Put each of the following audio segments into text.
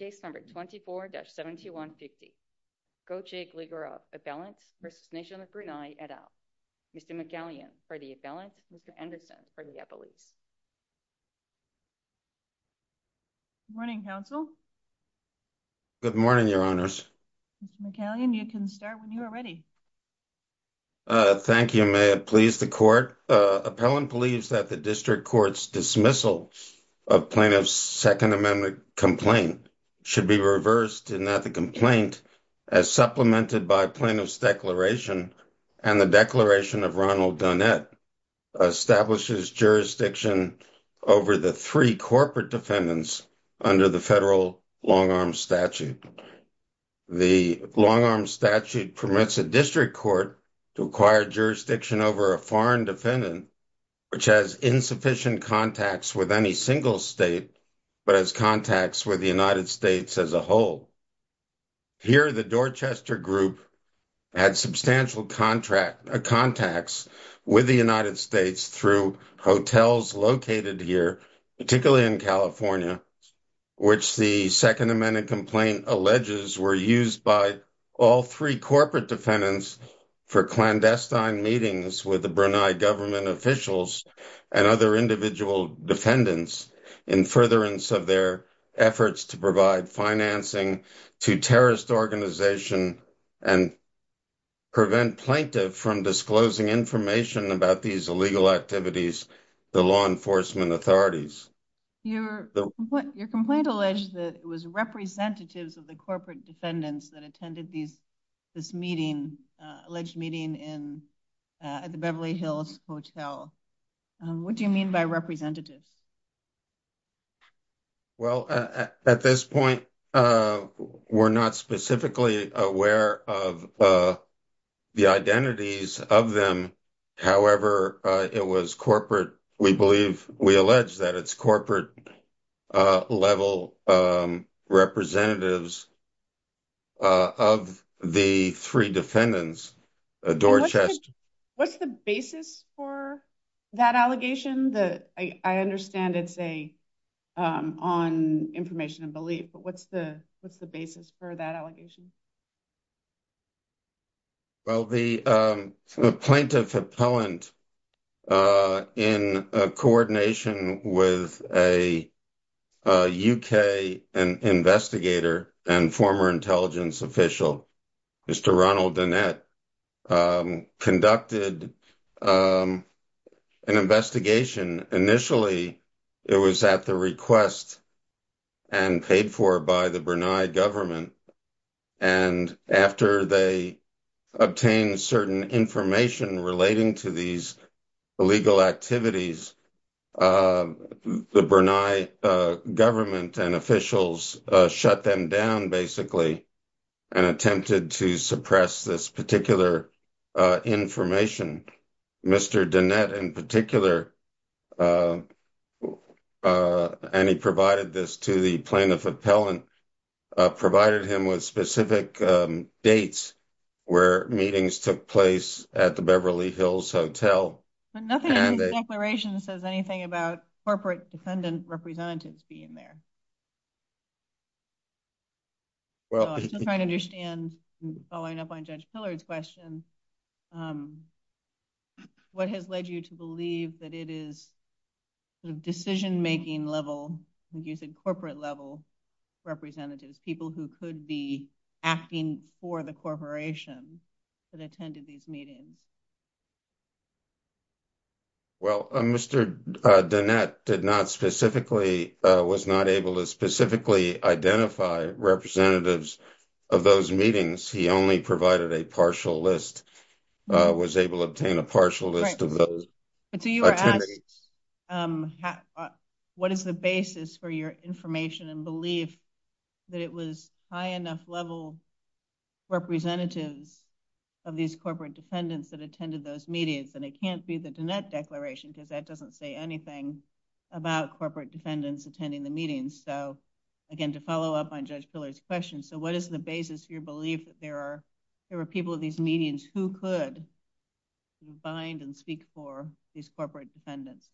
et al. Mr. McCallion for the appellant, Mr. Anderson for the appellate. Good morning, counsel. Good morning, your honors. Mr. McCallion, you can start when you are ready. Thank you. May it please the court. Appellant believes that the district court's dismissal of Plaintiff's Second Amendment complaint should be reversed in that the complaint, as supplemented by Plaintiff's declaration and the declaration of Ronald Dunnett, establishes jurisdiction over the three corporate defendants under the federal long-arm statute. The long-arm statute permits a district court to acquire jurisdiction over a foreign defendant which has insufficient contacts with any single state but has contacts with the United States as a whole. Here, the Dorchester group had substantial contacts with the United States through hotels located here, particularly in California, which the Second Amendment complaint alleges were used by all three corporate defendants for clandestine meetings with the Brunei government officials and other individual defendants in furtherance of their efforts to provide financing to terrorist organizations and prevent Plaintiff from disclosing information about these illegal activities to law enforcement authorities. Your complaint alleges that it was representatives of the corporate defendants that attended this meeting, alleged meeting at the Beverly Hills Hotel. What do you mean by representatives? Well, at this point, we're not specifically aware of the identities of them. However, it was corporate, we believe, we allege that it's corporate-level representatives of the three defendants, Dorchester. What's the basis for that allegation? I understand it's on information and belief, but what's the basis for that allegation? Well, the plaintiff appellant, in coordination with a UK investigator and former intelligence official, Mr. Ronald Danette, conducted an investigation. Initially, it was at the request and paid for by the Brunei government. And after they obtained certain information relating to these illegal activities, the Brunei government and officials shut them down, basically, and attempted to suppress this particular information. Mr. Danette, in particular, and he provided this to the plaintiff appellant, provided him with specific dates where meetings took place at the Beverly Hills Hotel. But nothing in the declaration says anything about corporate defendant representatives being there. I'm trying to understand, following up on Judge Pillard's question, what has led you to believe that it is decision-making level, corporate-level representatives, people who could be acting for the corporation that attended these meetings? Well, Mr. Danette did not specifically, was not able to specifically identify representatives of those meetings. He only provided a partial list, was able to obtain a partial list of those. So you are asking, what is the basis for your information and belief that it was high-enough level representatives of these corporate defendants that attended those meetings? And it can't be the Danette declaration, because that doesn't say anything about corporate defendants attending the meetings. So, again, to follow up on Judge Pillard's question, so what is the basis for your belief that there are people at these meetings who could bind and speak for these corporate defendants?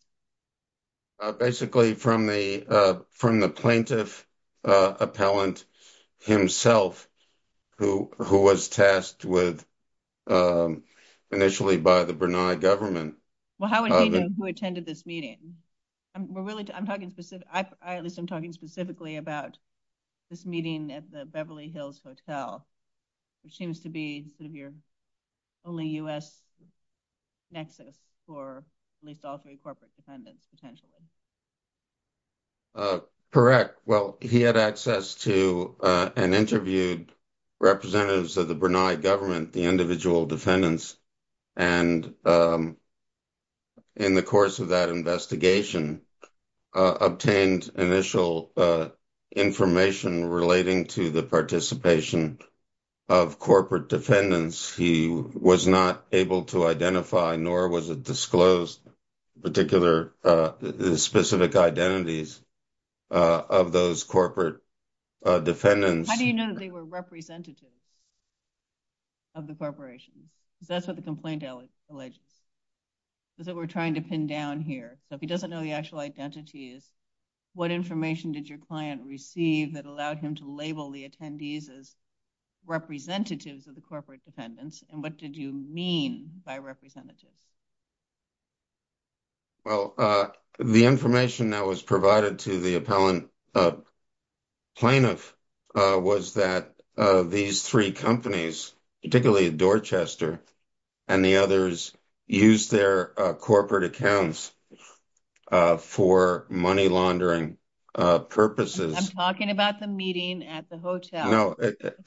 Basically, from the plaintiff appellant himself, who was tasked initially by the Brunei government. Well, how would he know who attended this meeting? I'm talking specifically about this meeting at the Beverly Hills Hotel, which seems to be sort of your only U.S. nexus for at least all three corporate defendants, potentially. Correct. Well, he had access to and interviewed representatives of the Brunei government, the individual defendants, and in the course of that investigation, obtained initial information relating to the participation of corporate defendants. He was not able to identify, nor was it disclosed, the specific identities of those corporate defendants. How do you know they were representatives of the corporation? That's what the complaint alleges. That we're trying to pin down here. If he doesn't know the actual identities, what information did your client receive that they were representatives of the corporate defendants, and what did you mean by representatives? Well, the information that was provided to the appellant plaintiff was that these three companies, particularly Dorchester and the others, used their corporate accounts for money laundering purposes. I'm talking about the meeting at the hotel. No,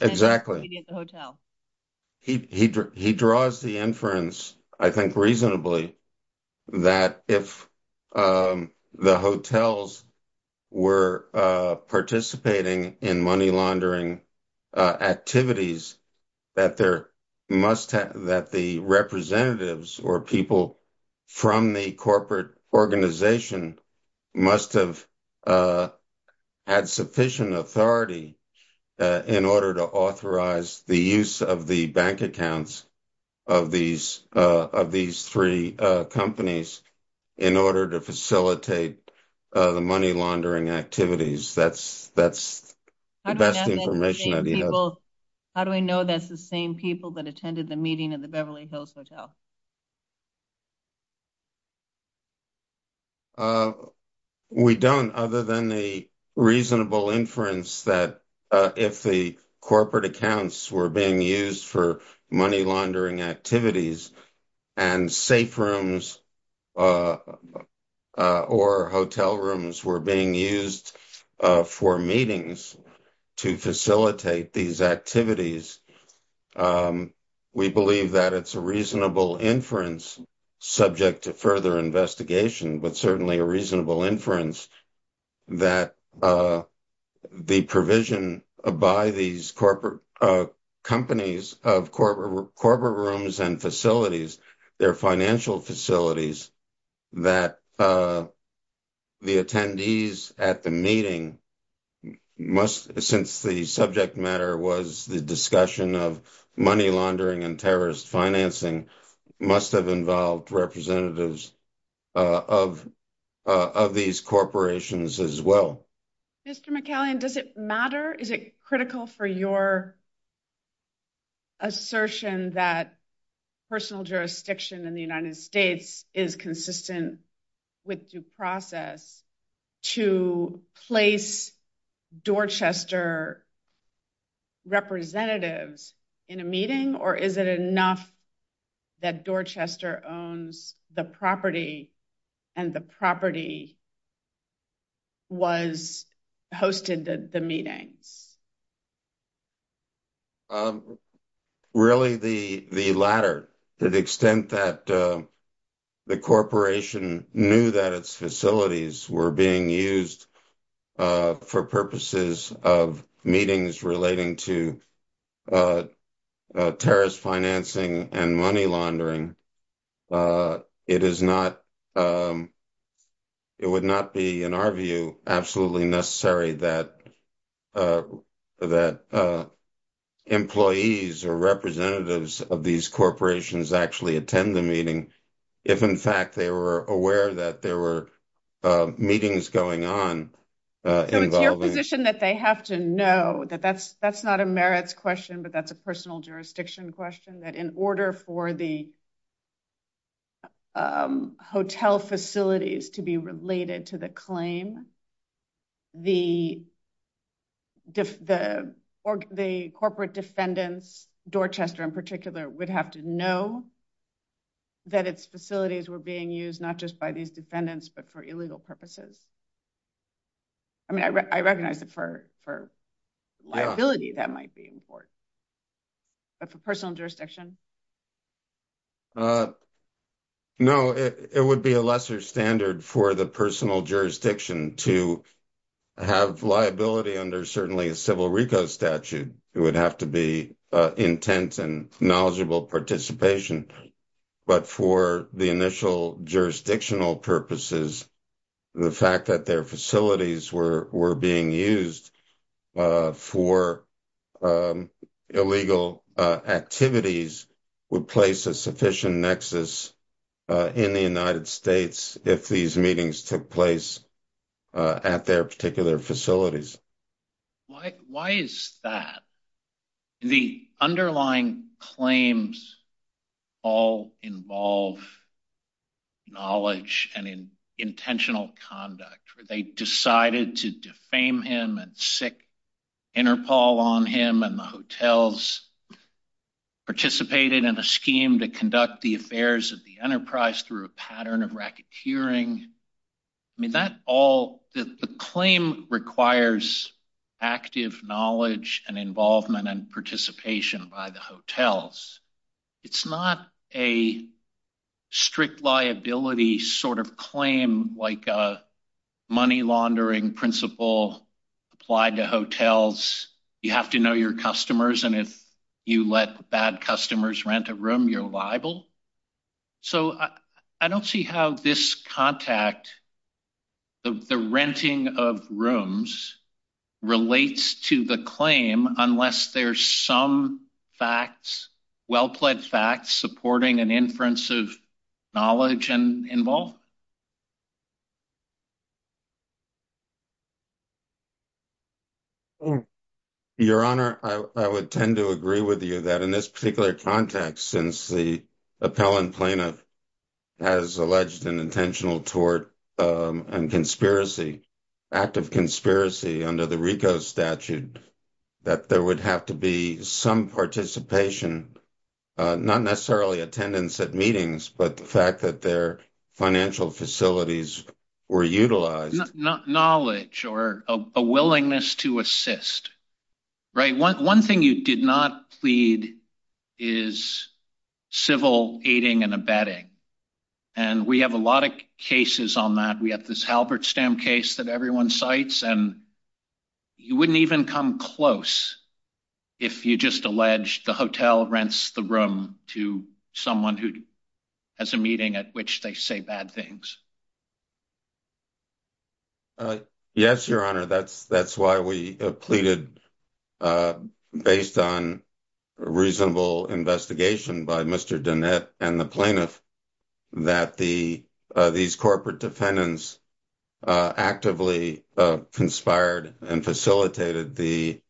exactly. He draws the inference, I think reasonably, that if the hotels were participating in money laundering activities, that the representatives or people from the corporate organization must have had sufficient authority in order to authorize the use of the bank accounts of these three companies in order to facilitate the money laundering activities. That's the best information that we have. How do we know that's the same people that attended the meeting at the Beverly Hills Hotel? We don't, other than the reasonable inference that if the corporate accounts were being used for money laundering activities and safe rooms or hotel rooms were being used for meetings to facilitate these activities, we believe that it's a reasonable inference subject to further investigation, but certainly a reasonable inference that the provision by these companies of corporate rooms and facilities, their financial facilities, that the attendees at the meeting, since the subject matter was the discussion of money laundering and terrorist financing, must have involved representatives of these corporations as well. Mr. McCallion, does it matter? Is it critical for your assertion that personal jurisdiction in the United States is consistent with due process to place Dorchester representatives in a meeting, or is it enough that Dorchester owns the property and the property hosted the meeting? Really, the latter. To the extent that the corporation knew that its facilities were being used for purposes of meetings relating to terrorist financing and money laundering, it would not be, in our view, absolutely necessary that employees or representatives of these corporations actually attend the meeting if, in fact, they were aware that there were meetings going on involving – So it's your position that they have to know that that's not a merits question, but that's a personal jurisdiction question, that in order for the hotel facilities to be related to the claim, the corporate defendants, Dorchester in particular, would have to know that its facilities were being used, not just by these defendants, but for illegal purposes. I mean, I recognize that for liability that might be important, but for personal jurisdiction? No, it would be a lesser standard for the personal jurisdiction to have liability under, certainly, a civil RICO statute. It would have to be intent and knowledgeable participation. But for the initial jurisdictional purposes, the fact that their facilities were being used for illegal activities would place a sufficient nexus in the United States if these meetings took place at their particular facilities. Why is that? The underlying claims all involve knowledge and intentional conduct, where they decided to defame him and sick Interpol on him, and the hotels participated in a scheme to conduct the affairs of the enterprise through a pattern of racketeering. I mean, the claim requires active knowledge and involvement and participation by the hotels. It's not a strict liability sort of claim, like a money laundering principle applied to hotels. You have to know your customers, and if you let bad customers rent a room, you're liable. So, I don't see how this contact, the renting of rooms, relates to the claim unless there's some facts, well-plaid facts, supporting an inference of knowledge and involvement. Your Honor, I would tend to agree with you that in this particular context, since the appellant plaintiff has alleged an intentional tort and conspiracy, active conspiracy under the RICO statute, that there would have to be some participation, not necessarily attendance at meetings, but the fact that their financial facilities were utilized. Not knowledge or a willingness to assist, right? One thing you did not plead is civil aiding and abetting, and we have a lot of cases on that. We have this Halberstam case that everyone cites, and you wouldn't even come close if you just alleged the hotel rents the room to someone who has a meeting at which they say bad things. Yes, Your Honor. That's why we pleaded, based on reasonable investigation by Mr. Danette and the plaintiff, that these corporate defendants actively conspired and facilitated the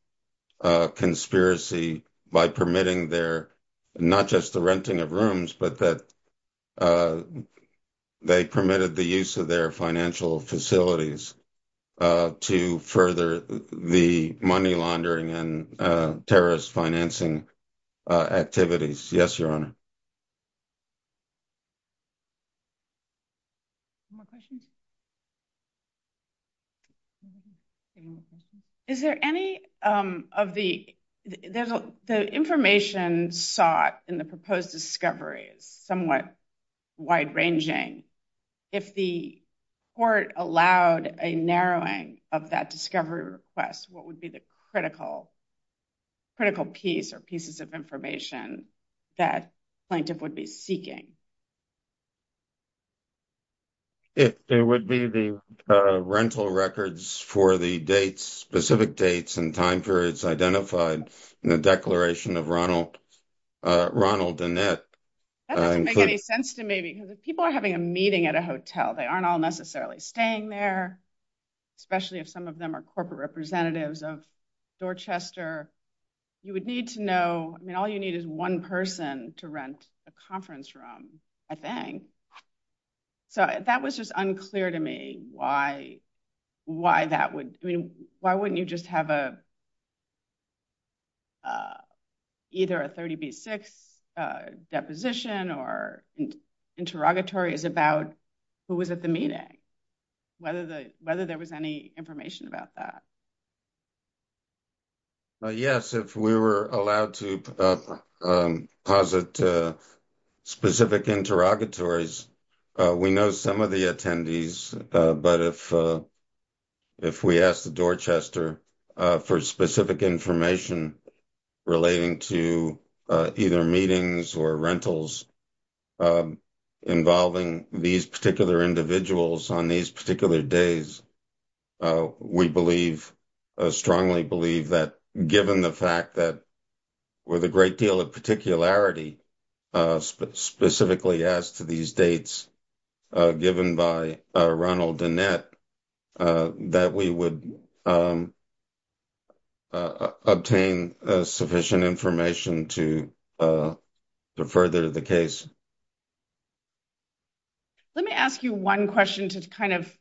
conspiracy by permitting their, not just the renting of rooms, but that they permitted the use of their financial facilities to further the money laundering and terrorist financing activities. Yes, Your Honor. One more question? Is there any of the, the information sought in the proposed discovery is somewhat wide-ranging. If the court allowed a narrowing of that discovery request, what would be the critical piece or pieces of information that the plaintiff would be seeking? It would be the rental records for the dates, specific dates and time periods identified in the declaration of Ronald Danette. That doesn't make any sense to me, because if people are having a meeting at a hotel, they aren't all necessarily staying there, especially if some of them are corporate representatives of Dorchester. You would need to know, I mean, all you need is one person to rent a conference room, I think. So that was just unclear to me why, why that would, I mean, why wouldn't you just have a, either a 30B6 deposition or interrogatory about who was at the meeting, whether there was any information about that. Yes, if we were allowed to posit specific interrogatories, we know some of the attendees. But if, if we asked Dorchester for specific information relating to either meetings or rentals involving these particular individuals on these particular days, we believe, strongly believe that given the fact that with a great deal of particularity, specifically as to these dates given by Ronald Danette, that we would obtain sufficient information to further the case. Let me ask you one question to kind of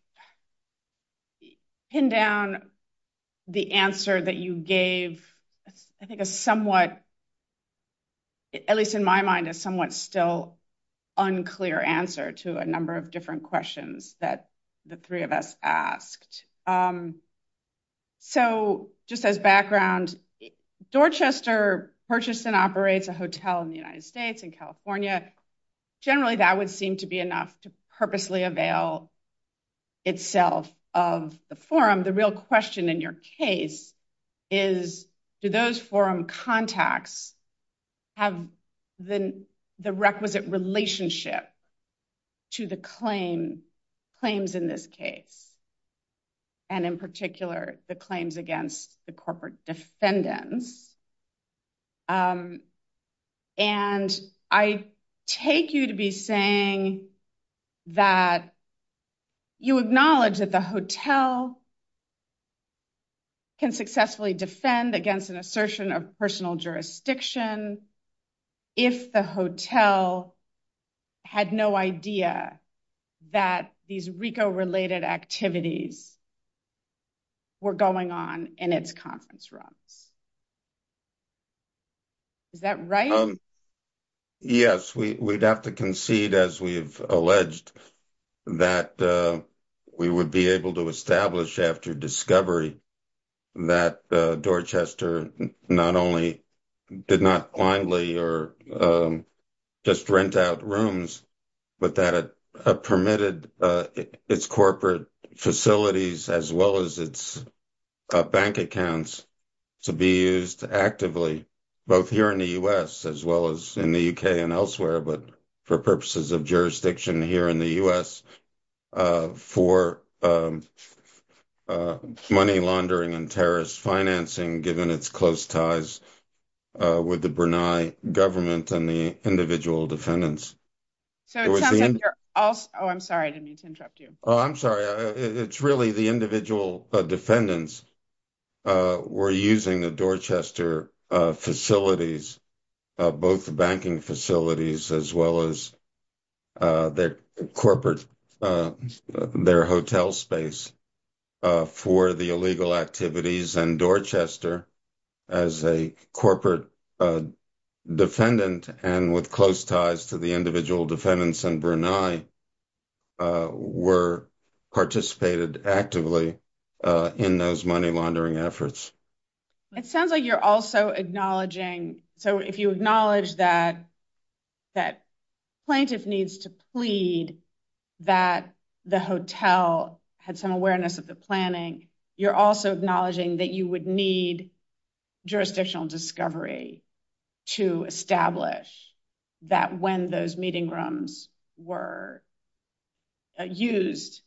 pin down the answer that you gave, I think a somewhat, at least in my mind, a somewhat still unclear answer to a number of different questions that the three of us asked. So just as background, Dorchester purchased and operates a hotel in the United States, in California, and is a member of the corporate defense community. And so I think that generally that would seem to be enough to purposely avail itself of the forum. The real question in your case is, do those forum contacts have the requisite relationship to the claim, claims in this case, and in particular, the claims against the corporate defendants? And I take you to be saying that you acknowledge that the hotel can successfully defend against an assertion of personal jurisdiction if the hotel had no idea that these RICO-related activities were going on in its conference room. Is that right? Yes, we'd have to concede, as we've alleged, that we would be able to establish after discovery that Dorchester not only did not blindly or just rent out rooms, but that it permitted its corporate facilities as well as its bank accounts to be used actively, both here in the U.S. as well as in the U.K. and elsewhere, but for purposes of jurisdiction here in the U.S., for money laundering and terrorist financing, given its close ties with the Brunei government and the individual defendants. Oh, I'm sorry. It's really the individual defendants were using the Dorchester facilities, both the banking facilities as well as their hotel space, for the illegal activities. And Dorchester, as a corporate defendant and with close ties to the individual defendants in Brunei, were participating actively in those money laundering efforts. It sounds like you're also acknowledging, so if you acknowledge that plaintiff needs to plead that the hotel had some awareness of the planning, you're also acknowledging that you would need jurisdictional discovery to establish that when those meeting rooms were used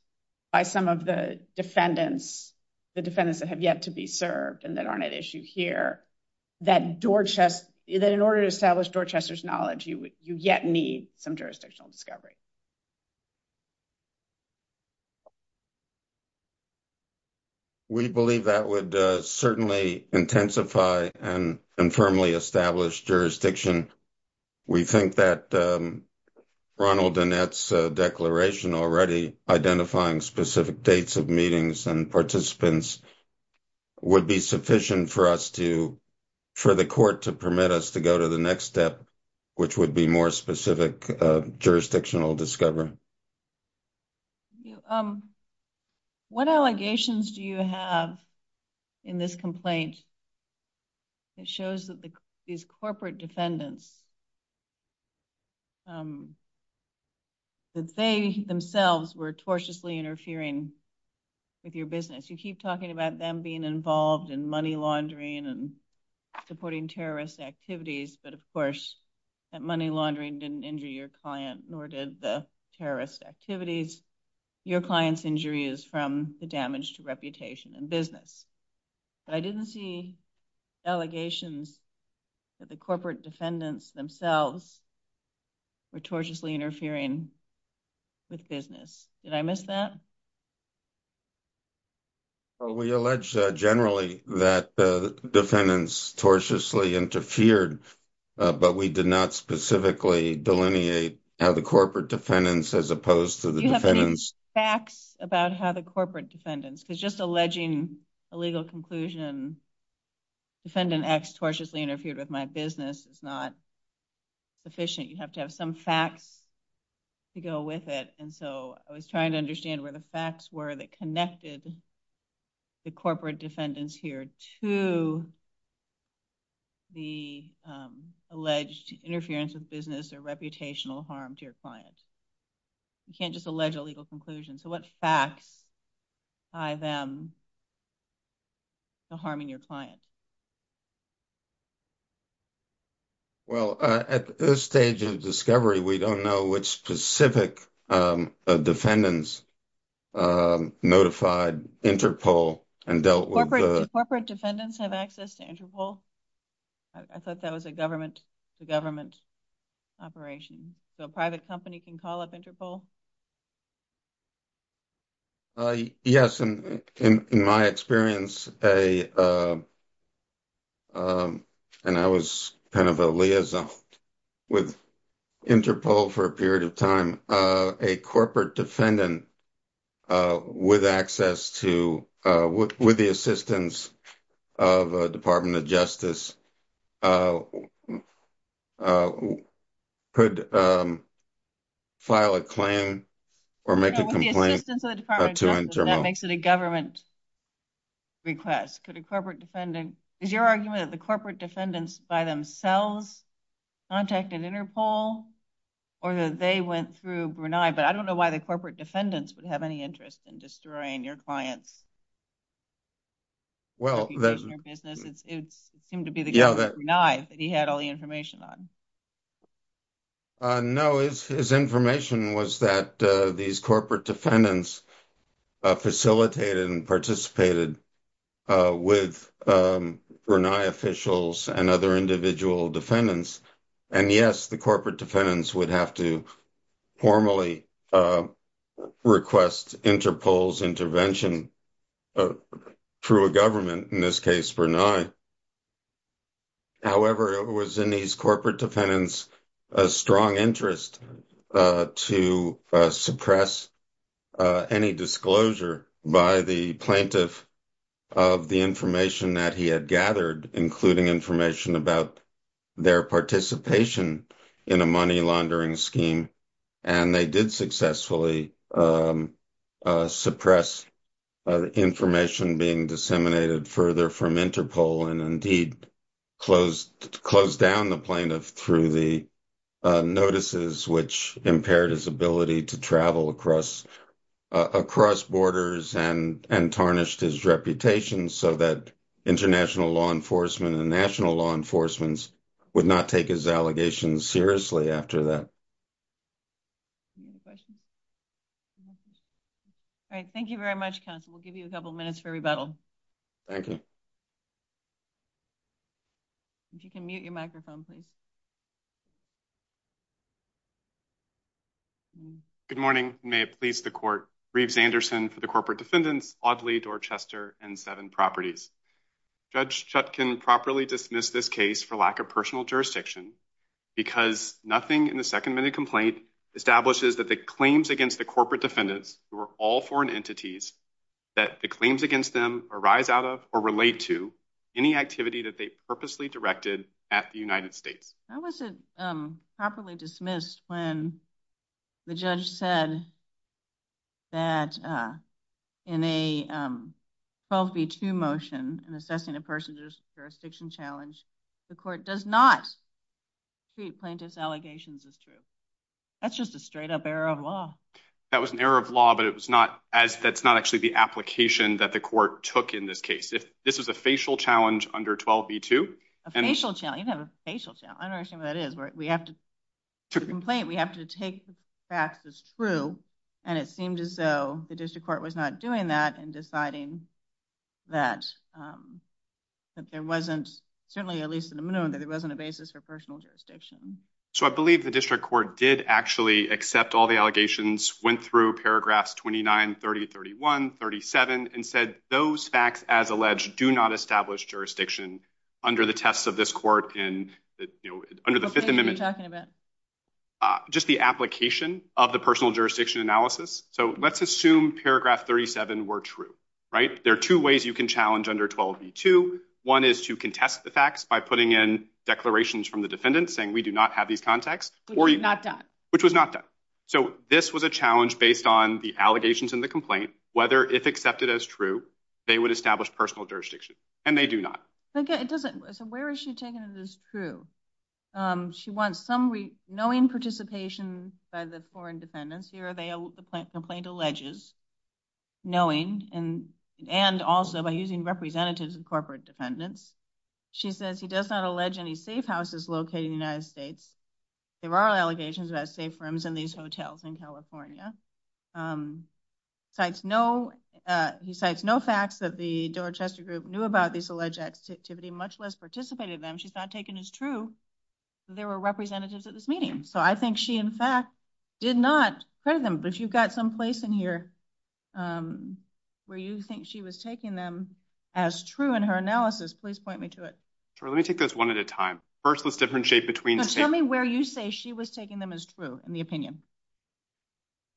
by some of the defendants, the defendants that have yet to be served and that aren't at issue here, that in order to establish Dorchester's knowledge, you yet need some jurisdictional discovery. We believe that would certainly intensify and firmly establish jurisdiction. We think that Ronald and that's a declaration already identifying specific dates of meetings and participants would be sufficient for us to, for the court to permit us to go to the next step, which would be more specific jurisdictional discovery. What allegations do you have in this complaint that shows that these corporate defendants, that they themselves were tortiously interfering with your business? You keep talking about them being involved in money laundering and supporting terrorist activities, but of course that money laundering didn't injure your client, nor did the terrorist activities. Your client's injury is from the damage to reputation and business. I didn't see allegations that the corporate defendants themselves were tortiously interfering with business. Did I miss that? We allege generally that the defendants tortiously interfered, but we did not specifically delineate how the corporate defendants as opposed to the defendants. Facts about how the corporate defendants, because just alleging a legal conclusion, defendant acts tortiously interfered with my business is not sufficient. You have to have some facts to go with it, and so I was trying to understand where the facts were that connected the corporate defendants here to the alleged interference with business or reputational harm to your clients. You can't just allege a legal conclusion. So what facts tie them to harming your clients? Well, at this stage of discovery, we don't know which specific defendants notified Interpol and dealt with. Did corporate defendants have access to Interpol? I thought that was a government operation. A private company can call up Interpol? Yes. In my experience, and I was kind of a liaison with Interpol for a period of time, a corporate defendant with the assistance of a Department of Justice could file a claim or make a complaint to Interpol. That makes it a government request. Is your argument that the corporate defendants by themselves contacted Interpol or that they went through Brunei? But I don't know why the corporate defendants would have any interest in destroying your clients. It seemed to be the government of Brunei that he had all the information on. No, his information was that these corporate defendants facilitated and participated with Brunei officials and other individual defendants. And yes, the corporate defendants would have to formally request Interpol's intervention through a government, in this case, Brunei. However, it was in these corporate defendants' strong interest to suppress any disclosure by the plaintiff of the information that he had gathered, including information about their participation in a money laundering scheme. And they did successfully suppress information being disseminated further from Interpol and indeed closed down the plaintiff through the notices, which impaired his ability to travel across borders and tarnished his reputation so that international law enforcement and national law enforcement would not take his allegations seriously after that. All right. Thank you very much, counsel. We'll give you a couple minutes for rebuttal. Thank you. If you can mute your microphone, please. Good morning. May it please the court. Reeves Anderson for the corporate defendants, Audley Dorchester and Seven Properties. Judge Chutkin properly dismissed this case for lack of personal jurisdiction because nothing in the second minute complaint establishes that the claims against the corporate defendants, who are all foreign entities, that the claims against them arise out of or relate to any activity that they purposely directed at the United States. How was it properly dismissed when the judge said that in a 12b2 motion, in assessing a person's jurisdiction challenge, the court does not treat plaintiff's allegations as true? That's just a straight up error of law. That was an error of law, but that's not actually the application that the court took in this case. This is a facial challenge under 12b2. A facial challenge? I don't understand what that is. The complaint, we have to take the facts as true, and it seemed as though the district court was not doing that in deciding that there wasn't, certainly at least in the minimum, that there wasn't a basis for personal jurisdiction. So I believe the district court did actually accept all the allegations, went through paragraphs 29, 30, 31, 37, and said those facts, as alleged, do not establish jurisdiction under the test of this court and under the Fifth Amendment. Just the application of the personal jurisdiction analysis. So let's assume paragraph 37 were true, right? There are two ways you can challenge under 12b2. One is to contest the facts by putting in declarations from the defendant saying we do not have these contacts. Which was not done. Which was not done. So this was a challenge based on the allegations in the complaint, whether if accepted as true, they would establish personal jurisdiction. And they do not. So where is she taking this to? She wants some knowing participation by the foreign defendants. Here the complaint alleges knowing and also by using representatives of corporate defendants. She says he does not allege any safe houses located in the United States. There are allegations of safe rooms in these hotels in California. Cites no facts that the Dorchester group knew about this alleged activity, much less participated in them. She's not taking it as true that there were representatives at this meeting. So I think she, in fact, did not present them. But you've got some place in here where you think she was taking them as true in her analysis. Please point me to it. Let me take this one at a time. So tell me where you say she was taking them as true in the opinion.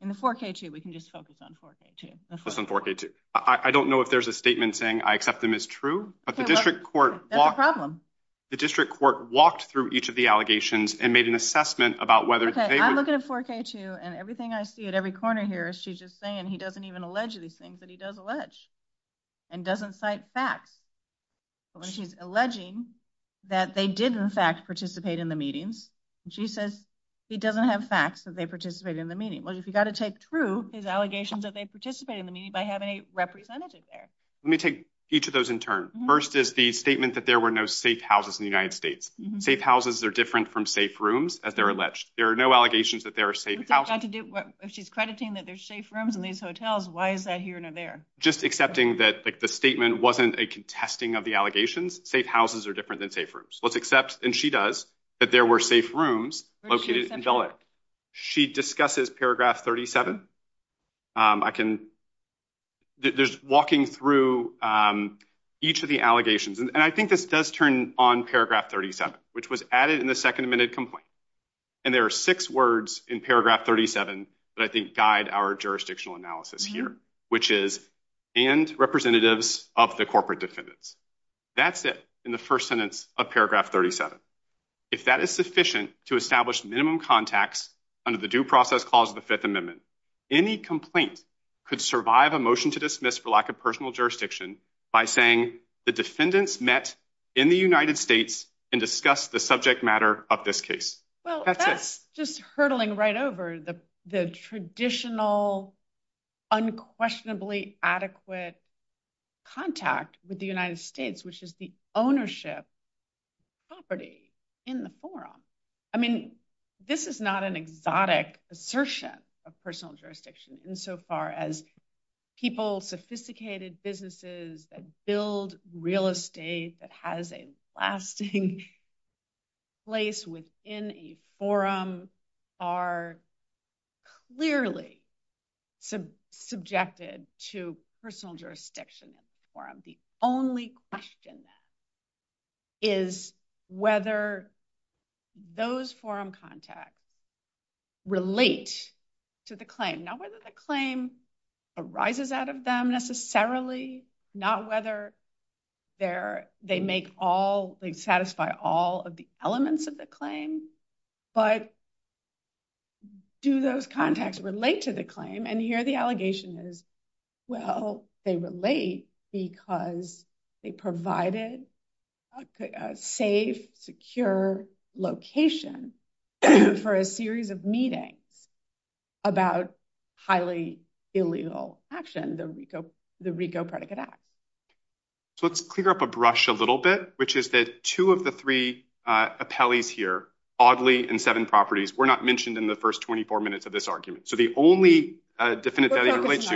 In the 4K2, we can just focus on 4K2. Let's focus on 4K2. I don't know if there's a statement saying I accept them as true. That's a problem. The district court walked through each of the allegations and made an assessment about whether they were true. Okay, I look at a 4K2 and everything I see at every corner here, she's just saying he doesn't even allege these things. But he does allege. And doesn't cite facts. She's alleging that they did, in fact, participate in the meeting. And she says he doesn't have facts that they participated in the meeting. Well, you've got to take through his allegations that they participated in the meeting by having a representative there. Let me take each of those in turn. First is the statement that there were no safe houses in the United States. Safe houses are different from safe rooms, as they're alleged. There are no allegations that there are safe houses. If she's crediting that there's safe rooms in these hotels, why is that here and there? Just accepting that the statement wasn't a contesting of the allegations. Safe houses are different than safe rooms. Let's accept, and she does, that there were safe rooms located in LA. She discusses paragraph 37. I can, there's walking through each of the allegations. And I think this does turn on paragraph 37, which was added in the second amendment complaint. And there are six words in paragraph 37 that I think guide our jurisdictional analysis here, which is, and representatives of the corporate defendants. That's it in the first sentence of paragraph 37. If that is sufficient to establish minimum contacts under the due process clause of the Fifth Amendment, any complaint could survive a motion to dismiss for lack of personal jurisdiction by saying, the defendants met in the United States and discussed the subject matter of this case. Well, that's just hurtling right over the traditional, unquestionably adequate contact with the United States, which is the ownership property in the forum. I mean, this is not an exotic assertion of personal jurisdiction, insofar as people, sophisticated businesses that build real estate, that has a lasting place within a forum, are clearly subjected to personal jurisdiction in the forum. The only question is whether those forum contacts relate to the claim. Not whether the claim arises out of them, necessarily. Not whether they satisfy all of the elements of the claim. But do those contacts relate to the claim? And here the allegation is, well, they relate because they provided a safe, secure location for a series of meetings about highly illegal action, the RICO Predicate Act. So let's clear up a brush a little bit, which is that two of the three appellees here, oddly in seven properties, were not mentioned in the first 24 minutes of this argument. So the only defendant that it relates to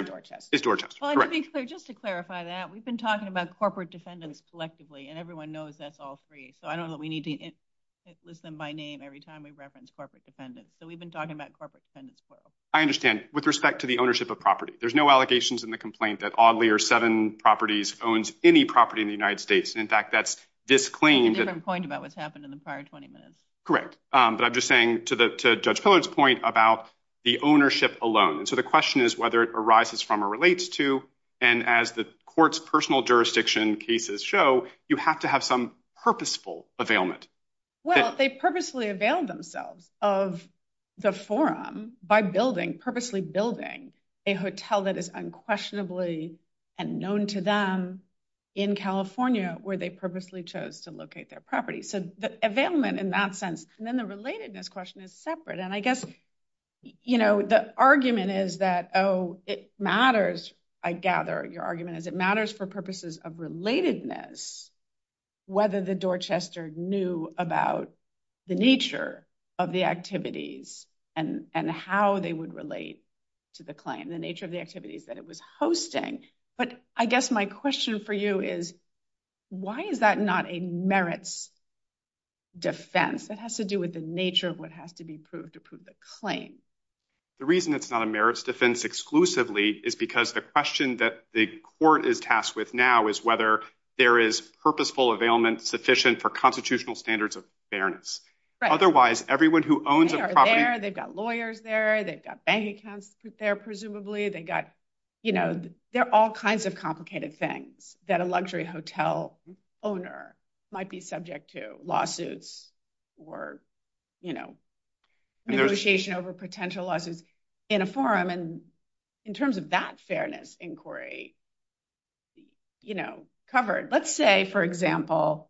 is Dorchester. Just to clarify that, we've been talking about corporate defendants selectively, and everyone knows that's all free. So I don't know that we need to list them by name every time we've referenced corporate defendants. So we've been talking about corporate defendants as well. I understand, with respect to the ownership of property. There's no allegations in the complaint that oddly or seven properties owns any property in the United States. In fact, that's this claim. It's a different point about what's happened in the prior 20 minutes. Correct. But I'm just saying, to Judge Pillard's point about the ownership alone. So the question is whether it arises from or relates to, and as the court's personal jurisdiction cases show, you have to have some purposeful availment. Well, they purposely availed themselves of the forum by purposely building a hotel that is unquestionably unknown to them in California, where they purposely chose to locate their property. So the availment in that sense. And then the relatedness question is separate. And I guess, you know, the argument is that, oh, it matters. I gather your argument is it matters for purposes of relatedness, whether the Dorchester knew about the nature of the activities and how they would relate to the claim, the nature of the activities that it was hosting. But I guess my question for you is, why is that not a merits defense? It has to do with the nature of what has to be proved to prove the claim. The reason it's not a merits defense exclusively is because the question that the court is tasked with now is whether there is purposeful availment sufficient for constitutional standards of fairness. Otherwise, everyone who owns the property. They've got lawyers there. They've got bank accounts there, presumably. You know, there are all kinds of complicated things that a luxury hotel owner might be subject to lawsuits or, you know, negotiation over potential lawsuits in a forum. And in terms of that fairness inquiry, you know, covered. Let's say, for example,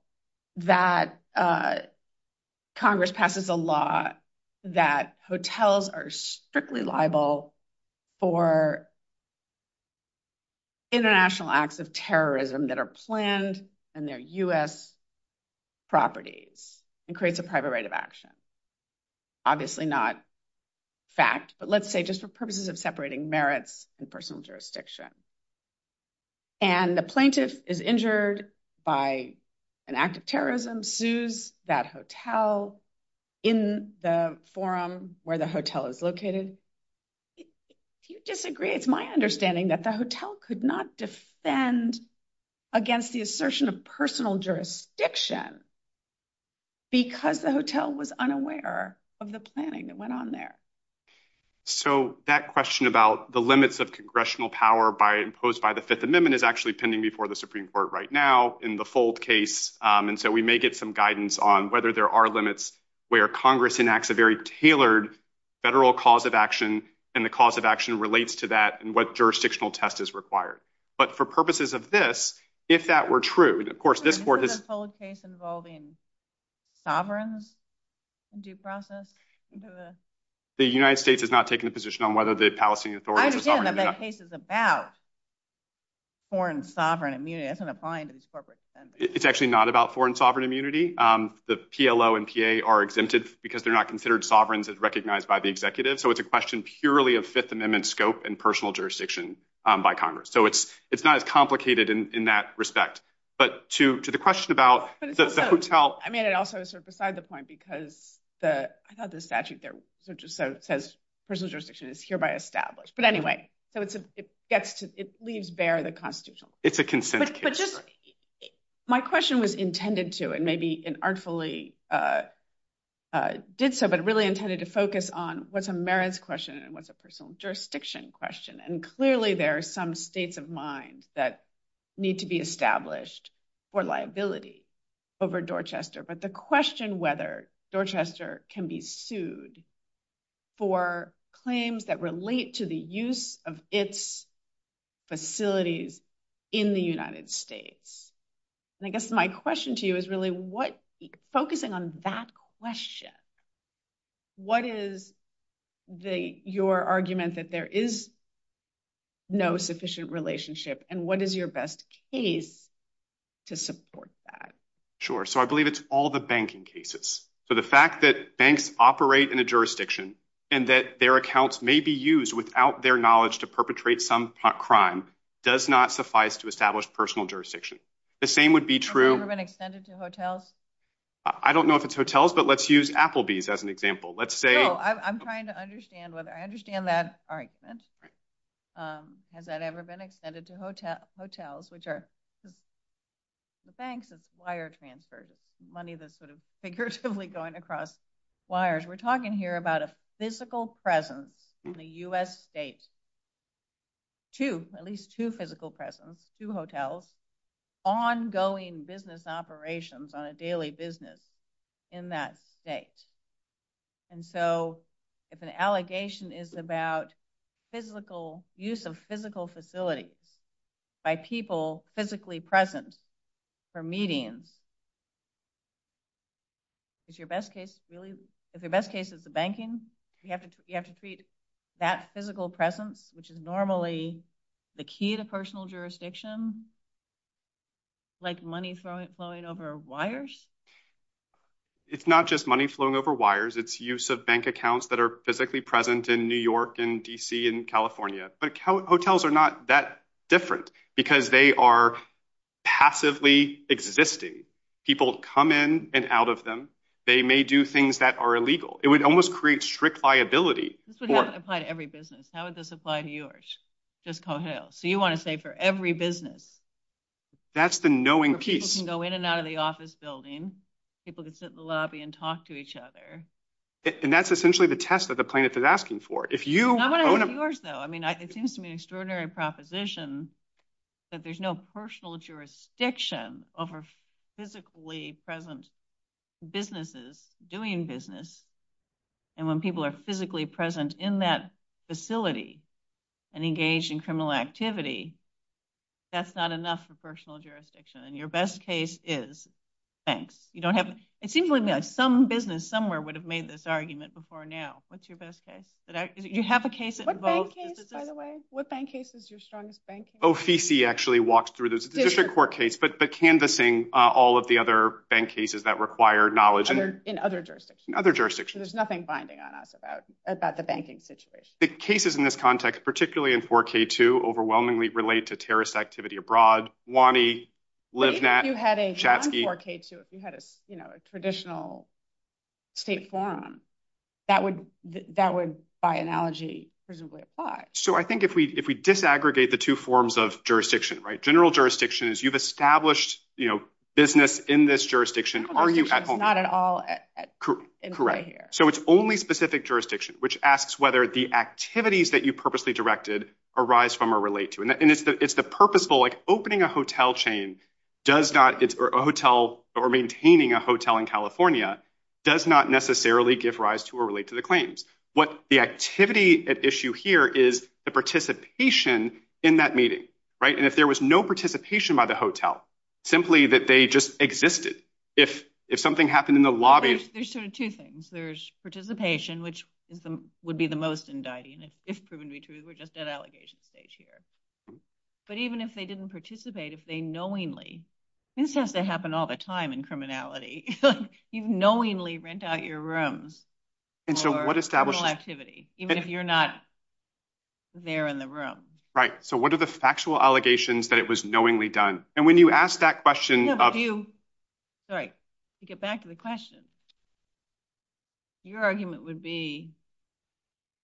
that Congress passes a law that hotels are strictly liable for international acts of terrorism that are planned in their U.S. properties and creates a private right of action. Obviously not fact, but let's say just for purposes of separating merits and personal jurisdiction. And the plaintiff is injured by an act of terrorism, sues that hotel in the forum where the hotel is located. If you disagree, it's my understanding that the hotel could not defend against the assertion of personal jurisdiction because the hotel was unaware of the planning that went on there. So that question about the limits of congressional power by imposed by the Fifth Amendment is actually pending before the Supreme Court right now in the full case. And so we may get some guidance on whether there are limits where Congress enacts a very tailored federal cause of action and the cause of action relates to that and what jurisdictional test is required. But for purposes of this, if that were true, of course, this is a case involving sovereign due process. The United States is not taking a position on whether the Palestinian Authority is about. Foreign sovereign immunity isn't applying to corporate, it's actually not about foreign sovereign immunity. The PLO and PA are exempted because they're not considered sovereigns as recognized by the executive. So it's a question purely of Fifth Amendment scope and personal jurisdiction by Congress. So it's not as complicated in that respect. But to the question about the hotel. I mean, it also is sort of beside the point because the statute there just says personal jurisdiction is hereby established. But anyway, it leaves bare the constitutional. It's a consent case. My question was intended to, and maybe inartfully did so, but really intended to focus on what's a merits question and what's a personal jurisdiction question. And clearly there are some states of mind that need to be established for liability over Dorchester. But the question whether Dorchester can be sued for claims that relate to the use of its facilities in the United States. I guess my question to you is really focusing on that question. What is your argument that there is no sufficient relationship and what is your best case to support that? Sure. So I believe it's all the banking cases. So the fact that banks operate in a jurisdiction and that their accounts may be used without their knowledge to perpetrate some crime does not suffice to establish personal jurisdiction. The same would be true. Has that ever been extended to hotels? I don't know if it's hotels, but let's use Applebee's as an example. I'm trying to understand whether I understand that. Has that ever been extended to hotels, which are the banks' wire transfers, money that's sort of figuratively going across wires. We're talking here about a physical presence in the U.S. state. Two, at least two physical presence, two hotels, ongoing business operations, daily business in that state. And so if an allegation is about physical, use of physical facilities by people physically present for meetings, is your best case really, is your best case is the banking? You have to treat that physical presence, which is normally the key to personal jurisdiction, like money flowing over wires? It's not just money flowing over wires. It's use of bank accounts that are physically present in New York and D.C. and California. But hotels are not that different because they are passively existing. People come in and out of them. They may do things that are illegal. It would almost create strict liability. This would not apply to every business. How would this apply to yours? So you want to say for every business? That's the knowing piece. Businesses can go in and out of the office building. People can sit in the lobby and talk to each other. And that's essentially the test that the plaintiff is asking for. It seems to me an extraordinary proposition that there's no personal jurisdiction over physically present businesses doing business. And when people are physically present in that facility and engaged in criminal activity, that's not enough for personal jurisdiction. And your best case is banks. It seems like some business somewhere would have made this argument before now. What's your best case? You have a case at the vote. What bank case, by the way? What bank case is your strongest bank case? OCC actually walks through this. It's a district court case, but canvassing all of the other bank cases that require knowledge. In other jurisdictions. In other jurisdictions. There's nothing binding on us about the banking situation. The cases in this context, particularly in 4K2, overwhelmingly relate to terrorist activity abroad. WANI, LiveNet. If you had a non-4K2, if you had a traditional state forum, that would, by analogy, presumably apply. So I think if we disaggregate the two forms of jurisdiction, right? General jurisdiction is you've established business in this jurisdiction. Are you at home? Not at all. Correct. So it's only specific jurisdiction, which asks whether the activities that you purposely directed arise from or relate to. And it's the purposeful, like opening a hotel chain does not, or maintaining a hotel in California, does not necessarily give rise to or relate to the claims. What the activity at issue here is the participation in that meeting, right? And if there was no participation by the hotel, simply that they just existed. If something happened in the lobby. There's sort of two things. There's participation, which would be the most indicting, if proven to be true. We're just at allegation stage here. But even if they didn't participate, if they knowingly. This has to happen all the time in criminality. You knowingly rent out your room for criminal activity, even if you're not there in the room. Right. So what are the factual allegations that it was knowingly done? And when you ask that question. You get back to the question. Your argument would be.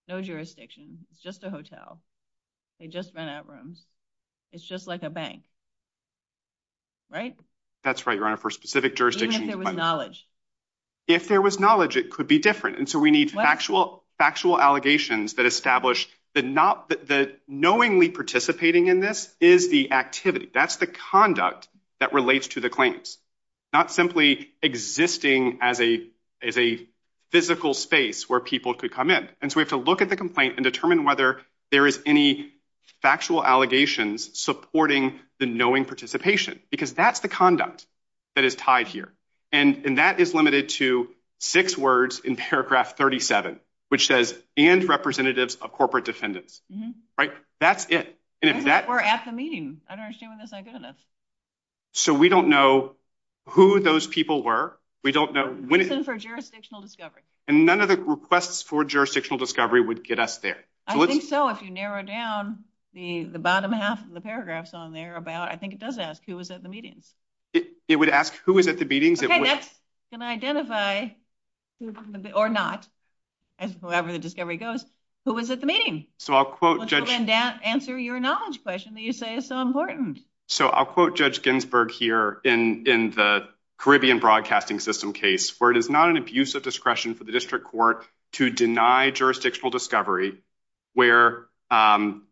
No jurisdiction, just a hotel. They just ran out room. It's just like a bank. Right. That's right. For specific jurisdiction. Knowledge. If there was knowledge, it could be different. And so we need actual factual allegations that establish that not that knowingly participating in this is the activity. That's the conduct that relates to the claims. Not simply existing as a physical space where people could come in. And so we have to look at the complaint and determine whether there is any factual allegations supporting the knowing participation. Because that's the conduct that is tied here. And that is limited to six words in paragraph 37, which says and representatives of corporate defendants. Right. That's it. We're at the meeting. I don't assume that's not good enough. So we don't know who those people were. We don't know. Even for jurisdictional discovery. And none of the requests for jurisdictional discovery would get us there. I think so. If you narrow down the bottom half of the paragraphs on there. I think it does ask who was at the meeting. It would ask who was at the meeting. It can identify or not. Whoever the discovery goes. Who was at the meeting? Answer your knowledge question that you say is so important. So I'll quote Judge Ginsburg here in the Caribbean Broadcasting System case. Where it is not an abuse of discretion for the district court to deny jurisdictional discovery. Where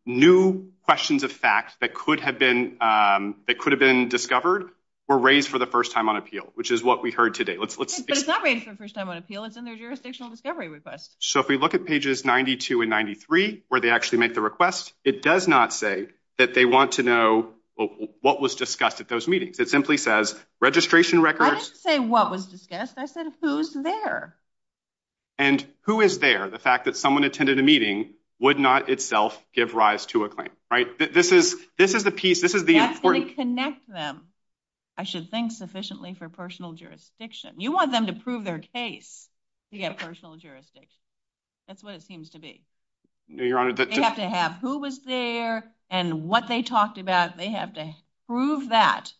new questions of facts that could have been discovered were raised for the first time on appeal. Which is what we heard today. But it's not raised for the first time on appeal. It's in the jurisdictional discovery request. So if we look at pages 92 and 93 where they actually make the request. It does not say that they want to know what was discussed at those meetings. It simply says registration records. I didn't say what was discussed. I said who's there. And who is there? The fact that someone attended a meeting would not itself give rise to a claim. Right? This is the piece. This is the important. You have to reconnect them. I should think sufficiently for personal jurisdiction. You want them to prove their case to get personal jurisdiction. That's what it seems to be. They have to have who was there and what they talked about. They have to prove that.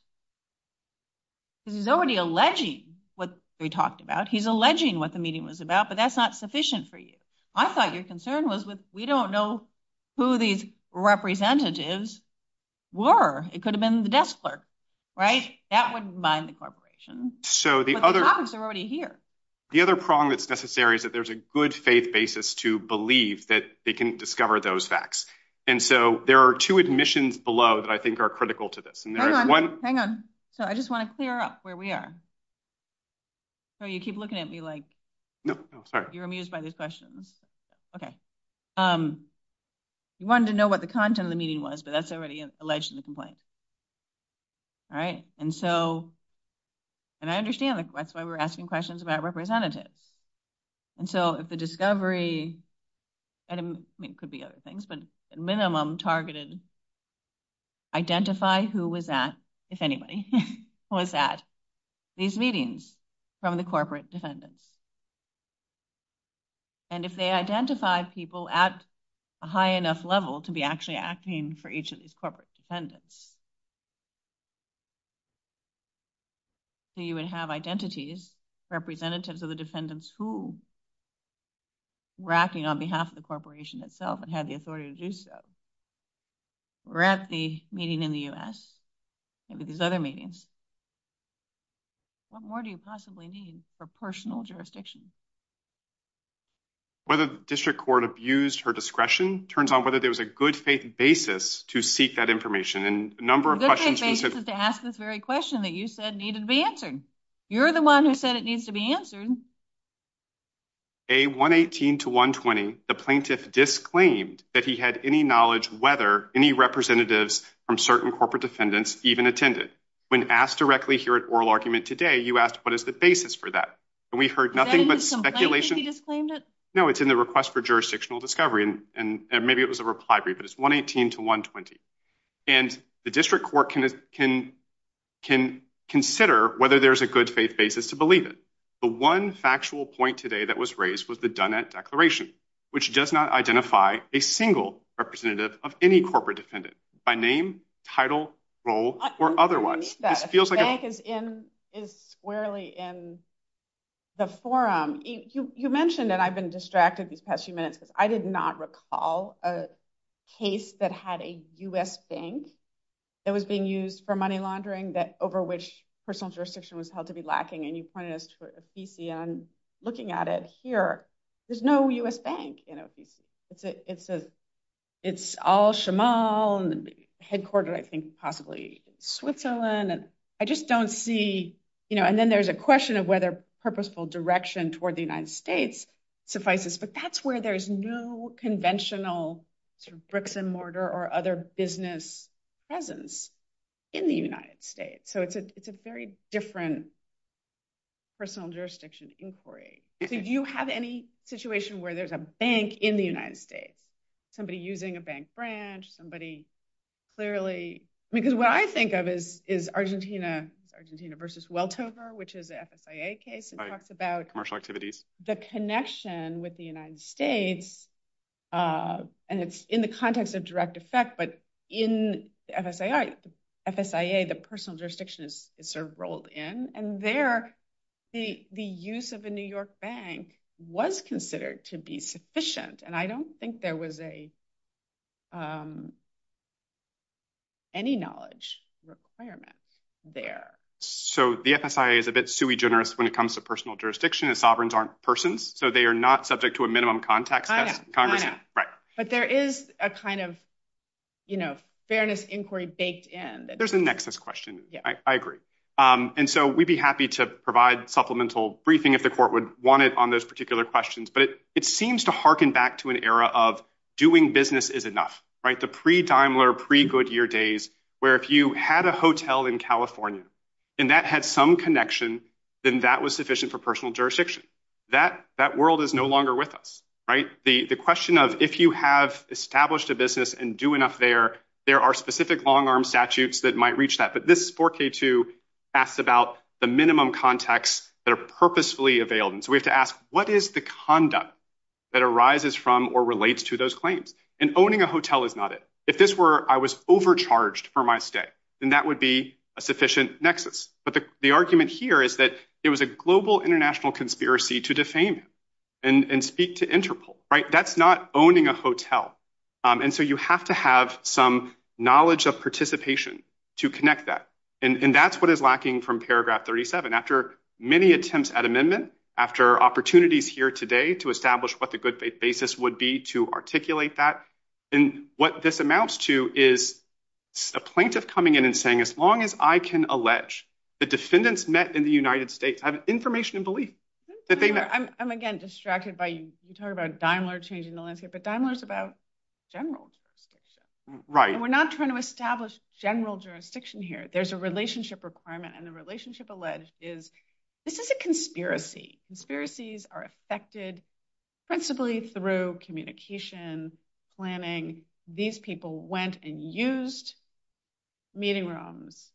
He's already alleging what they talked about. He's alleging what the meeting was about. But that's not sufficient for you. I thought your concern was we don't know who these representatives were. It could have been the desk clerk. Right? That wouldn't bind the corporation. The topics are already here. The other problem that's necessary is that there's a good faith basis to believe that they can discover those facts. And so there are two admissions below that I think are critical to this. Hang on. I just want to clear up where we are. You keep looking at me like you're amused by these questions. Okay. You wanted to know what the content of the meeting was, but that's already alleged in the complaint. All right. And I understand that's why we're asking questions about representatives. And so if the discovery, I mean, it could be other things, but minimum targeted identify who was at, if anybody was at, these meetings from the corporate defendants. And if they identified people at a high enough level to be actually acting for each of these corporate defendants. So you would have identities, representatives of the defendants, who were acting on behalf of the corporation itself and had the authority to do so. Were at the meeting in the U.S., maybe these other meetings. What more do you possibly need for personal jurisdiction? Whether the district court abused her discretion turns out whether there was a good faith basis to seek that information. And a number of questions. They asked this very question that you said needed to be answered. You're the one who said it needs to be answered. A 118 to 120. The plaintiff disclaimed that he had any knowledge, whether any representatives from certain corporate defendants even attended when asked directly here at oral argument today, you asked, what is the basis for that? And we heard nothing but speculation. No, it's in the request for jurisdictional discovery. And maybe it was a reply brief, but it's 118 to 120. And the district court can consider whether there's a good faith basis to believe it. The one factual point today that was raised was the Dunant Declaration, which does not identify a single representative of any corporate defendant by name, title, role, or otherwise. The bank is squarely in the forum. You mentioned that I've been distracted these past few minutes. I did not recall a case that had a U.S. bank that was being used for money laundering, that over which personal jurisdiction was held to be lacking. And you pointed us to OPCN looking at it here. There's no U.S. bank in OPCN. It's all Shamal and headquartered, I think, possibly Switzerland. And I just don't see, you know, and then there's a question of whether purposeful direction toward the United States suffices. But that's where there's no conventional sort of bricks and mortar or other business presence in the United States. So it's a very different personal jurisdiction inquiry. If you have any situation where there's a bank in the United States, somebody using a bank branch, somebody clearly, because what I think of is Argentina versus Weltover, which is an FSIA case and talks about the connection with the United States. And it's in the context of direct effect, but in FSIA, the personal jurisdiction is sort of rolled in. And there the use of a New York bank was considered to be sufficient. And I don't think there was any knowledge requirement there. So the FSIA is a bit sui generis when it comes to personal jurisdiction and sovereigns aren't persons. So they are not subject to a minimum contact. But there is a kind of, you know, fairness inquiry baked in. There's a nexus question. I agree. And so we'd be happy to provide supplemental briefing if the court would want it on those particular questions. But it seems to harken back to an era of doing business is enough, right? The pre-Daimler, pre-Goodyear days, where if you had a hotel in California, and that had some connection, then that was sufficient for personal jurisdiction. That world is no longer with us, right? The question of if you have established a business and do enough there, there are specific long arm statutes that might reach that. But this 4K2 asks about the minimum contacts that are purposefully available. And so we have to ask, what is the conduct that arises from or relates to those claims? And owning a hotel is not it. If this were, I was overcharged for my stay, then that would be a sufficient nexus. But the argument here is that it was a global international conspiracy to defame and speak to Interpol, right? That's not owning a hotel. And so you have to have some knowledge of participation to connect that. And that's what is lacking from paragraph 37. After many attempts at amendment, after opportunities here today to establish what the good faith basis would be to articulate that. And what this amounts to is a plaintiff coming in and saying, as long as I can allege the defendants met in the United States have information and belief. I'm again distracted by you talking about Daimler changing the landscape, but Daimler is about generals. Right. And we're not trying to establish general jurisdiction here. There's a relationship requirement. And the relationship alleged is this is a conspiracy. Conspiracies are affected principally through communication, planning. These people went and used meeting rooms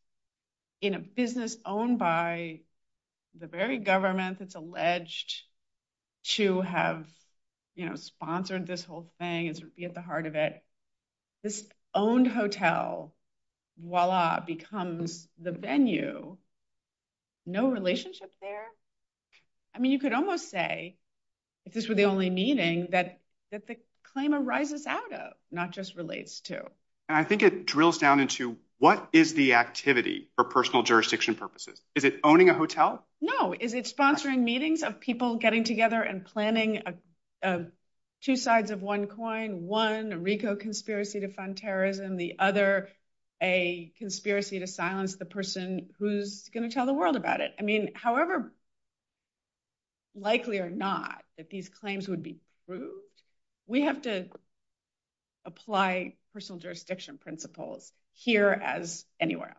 in a business owned by the very government that's alleged to have sponsored this whole thing and be at the heart of it. This owned hotel, voila, becomes the venue. No relationship there. I mean, you could almost say if this were the only meeting that the claim arises out of, not just relates to. And I think it drills down into what is the activity for personal jurisdiction purposes? Is it owning a hotel? No. Is it sponsoring meetings of people getting together and planning two sides of one coin? One Rico conspiracy to fund terrorism, the other a conspiracy to silence the person who's going to tell the world about it. I mean, however likely or not that these claims would be proved, we have to apply personal jurisdiction principles here as anywhere else.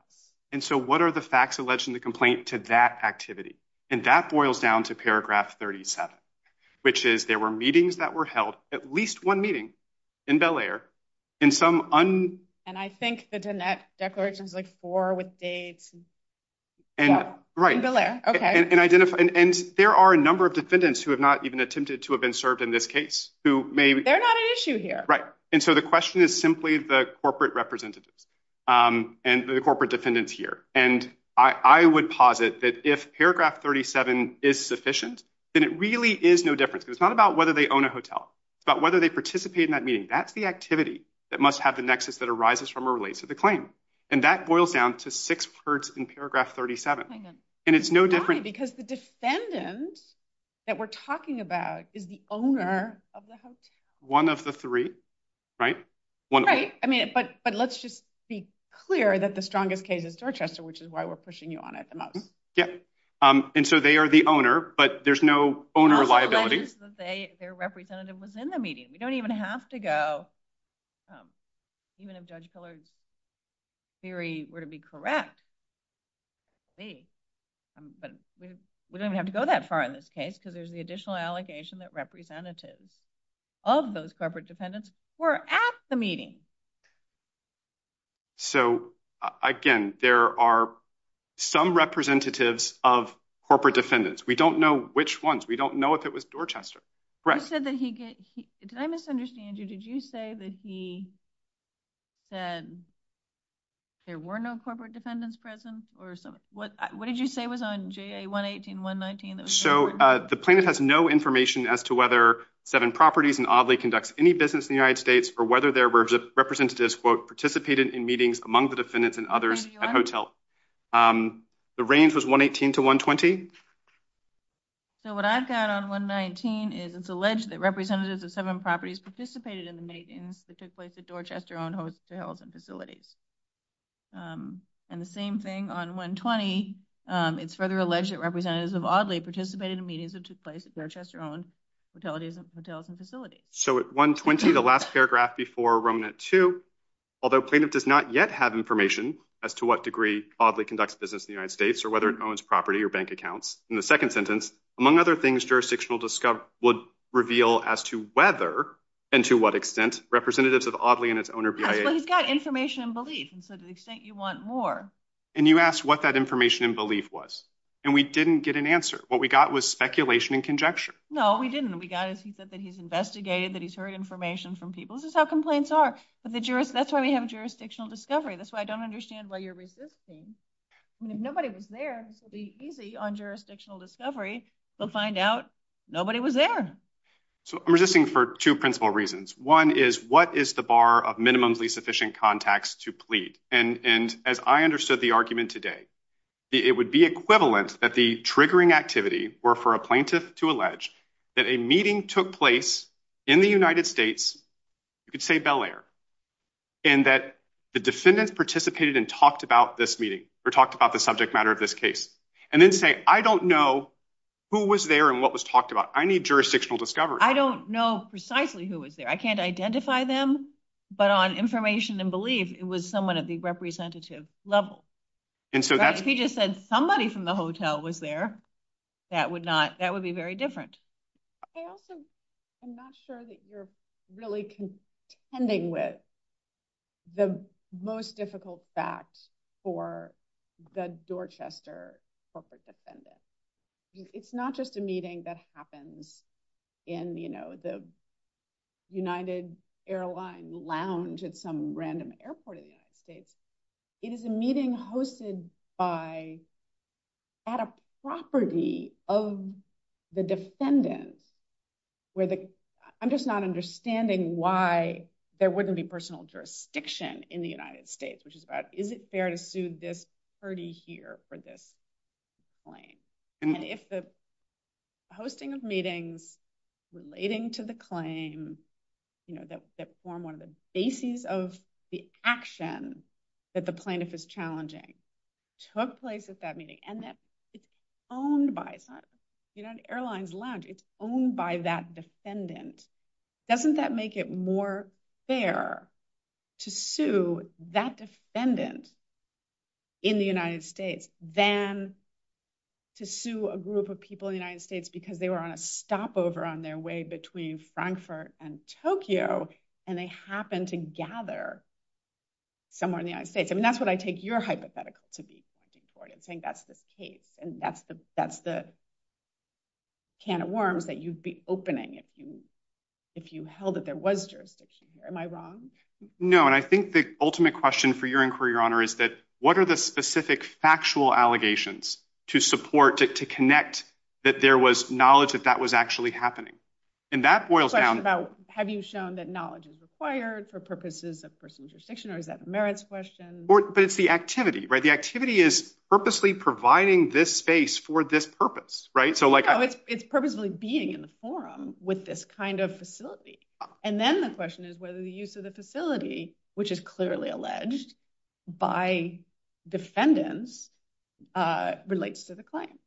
And so what are the facts alleged in the complaint to that activity? And that boils down to paragraph 37, which is there were meetings that were held at least one meeting in Bel air in some. And I think that in that declaration, And there are a number of defendants who have not even attempted to have been served in this case who may be. They're not an issue here. And so the question is simply the corporate representatives and the corporate defendants here. And I would posit that if paragraph 37 is sufficient, then it really is no different. It's not about whether they own a hotel, but whether they participate in that meeting. That's the activity that must have the nexus that arises from a relate to the claim. And that boils down to six parts in paragraph 37. And it's no different because the descendant that we're talking about is the owner of the house. One of the three. Right. I mean, but let's just be clear that the strongest case is Rochester, which is why we're pushing you on it. Yeah. And so they are the owner, but there's no owner liability representative was in the meeting. We don't even have to go. Even if judge pillars theory were to be correct. But we don't have to go that far in this case because there's the additional allocation that representatives of those corporate dependents were at the meeting. So again, there are some representatives of corporate defendants. We don't know which ones we don't know if it was Dorchester. Right. Did I misunderstand you? Did you say that he said there were no corporate defendants present or something? What did you say was on J a one 18, one 19. So the plaintiff has no information as to whether seven properties and oddly conducts any business in the United States or whether their representatives participated in meetings among the defendants and others at hotel. The range was one 18 to one 20. So what I've got on one 19 is it's alleged that representatives of seven properties participated in the meetings that took place at Dorchester on hotels and facilities. And the same thing on one 20 it's further alleged that representatives of oddly participated in meetings that took place at Dorchester on hotels and facilities. So one 20, the last paragraph before Roman at two, although plaintiff does not yet have information as to what degree oddly conducts business in the United States or whether it owns property or bank accounts. In the second sentence, among other things, jurisdictional discover would reveal as to whether and to what extent representatives of oddly and its owner, but he's got information and belief. And so the extent you want more, and you asked what that information and belief was, and we didn't get an answer. What we got was speculation and conjecture. No, we didn't. We got it. He said that he's investigated, that he's heard information from people. This is how complaints are, but that's why we have jurisdictional discovery. That's why I don't understand why you're resisting. Nobody was there to be easy on jurisdictional discovery. We'll find out. Nobody was there. So I'm resisting for two principal reasons. One is what is the bar of minimally sufficient contacts to plead? And, and as I understood the argument today, it would be equivalent that the triggering activity or for a plaintiff to allege that a meeting took place in the United States. You could say Bel Air. And that the defendants participated and talked about this meeting. Or talked about the subject matter of this case. And then say, I don't know who was there and what was talked about. I need jurisdictional discovery. I don't know precisely who was there. I can't identify them, but on information and belief, it was someone at the representative level. And so he just said somebody from the hotel was there. That would not, that would be very different. I'm not sure that you're really contending with. The most difficult fact. For the Dorchester. It's not just a meeting that happens. And, you know, the. United airline lounge at some random airport. It is a meeting hosted by. At a property of the defendant. I'm just not understanding why there wouldn't be personal jurisdiction in the United States, which is. Is it fair to sue this party here for this? And if the. Hosting of meetings. Relating to the claim. You know, that's that form. One of the bases of the action. That the plaintiff is challenging. Took place at that meeting and that. Owned by. You know, an airline lounge. Owned by that defendant. Doesn't that make it more fair. To sue that defendant. In the United States, then. To sue a group of people in the United States, because they were on a stopover on their way between Frankfurt and Tokyo. And they happen to gather. Somewhere in the United States. And that's what I take your hypothetical to be. I think that's the case. And that's the. Can of worms that you'd be opening. If you held that there was. Am I wrong? And I think the ultimate question for your inquiry, your honor, is that. What are the specific factual allegations? To support it, to connect. That there was knowledge that that was actually happening. And that boils down. To the question about, have you shown that knowledge is required for purposes of. Merits question. But it's the activity. Right. The activity is purposely providing this space for this purpose. So, like, it's purposely being in the forum with this kind of facility. And then the question is whether the use of the facility. Which is clearly alleged. By defendants. Relates to the claim.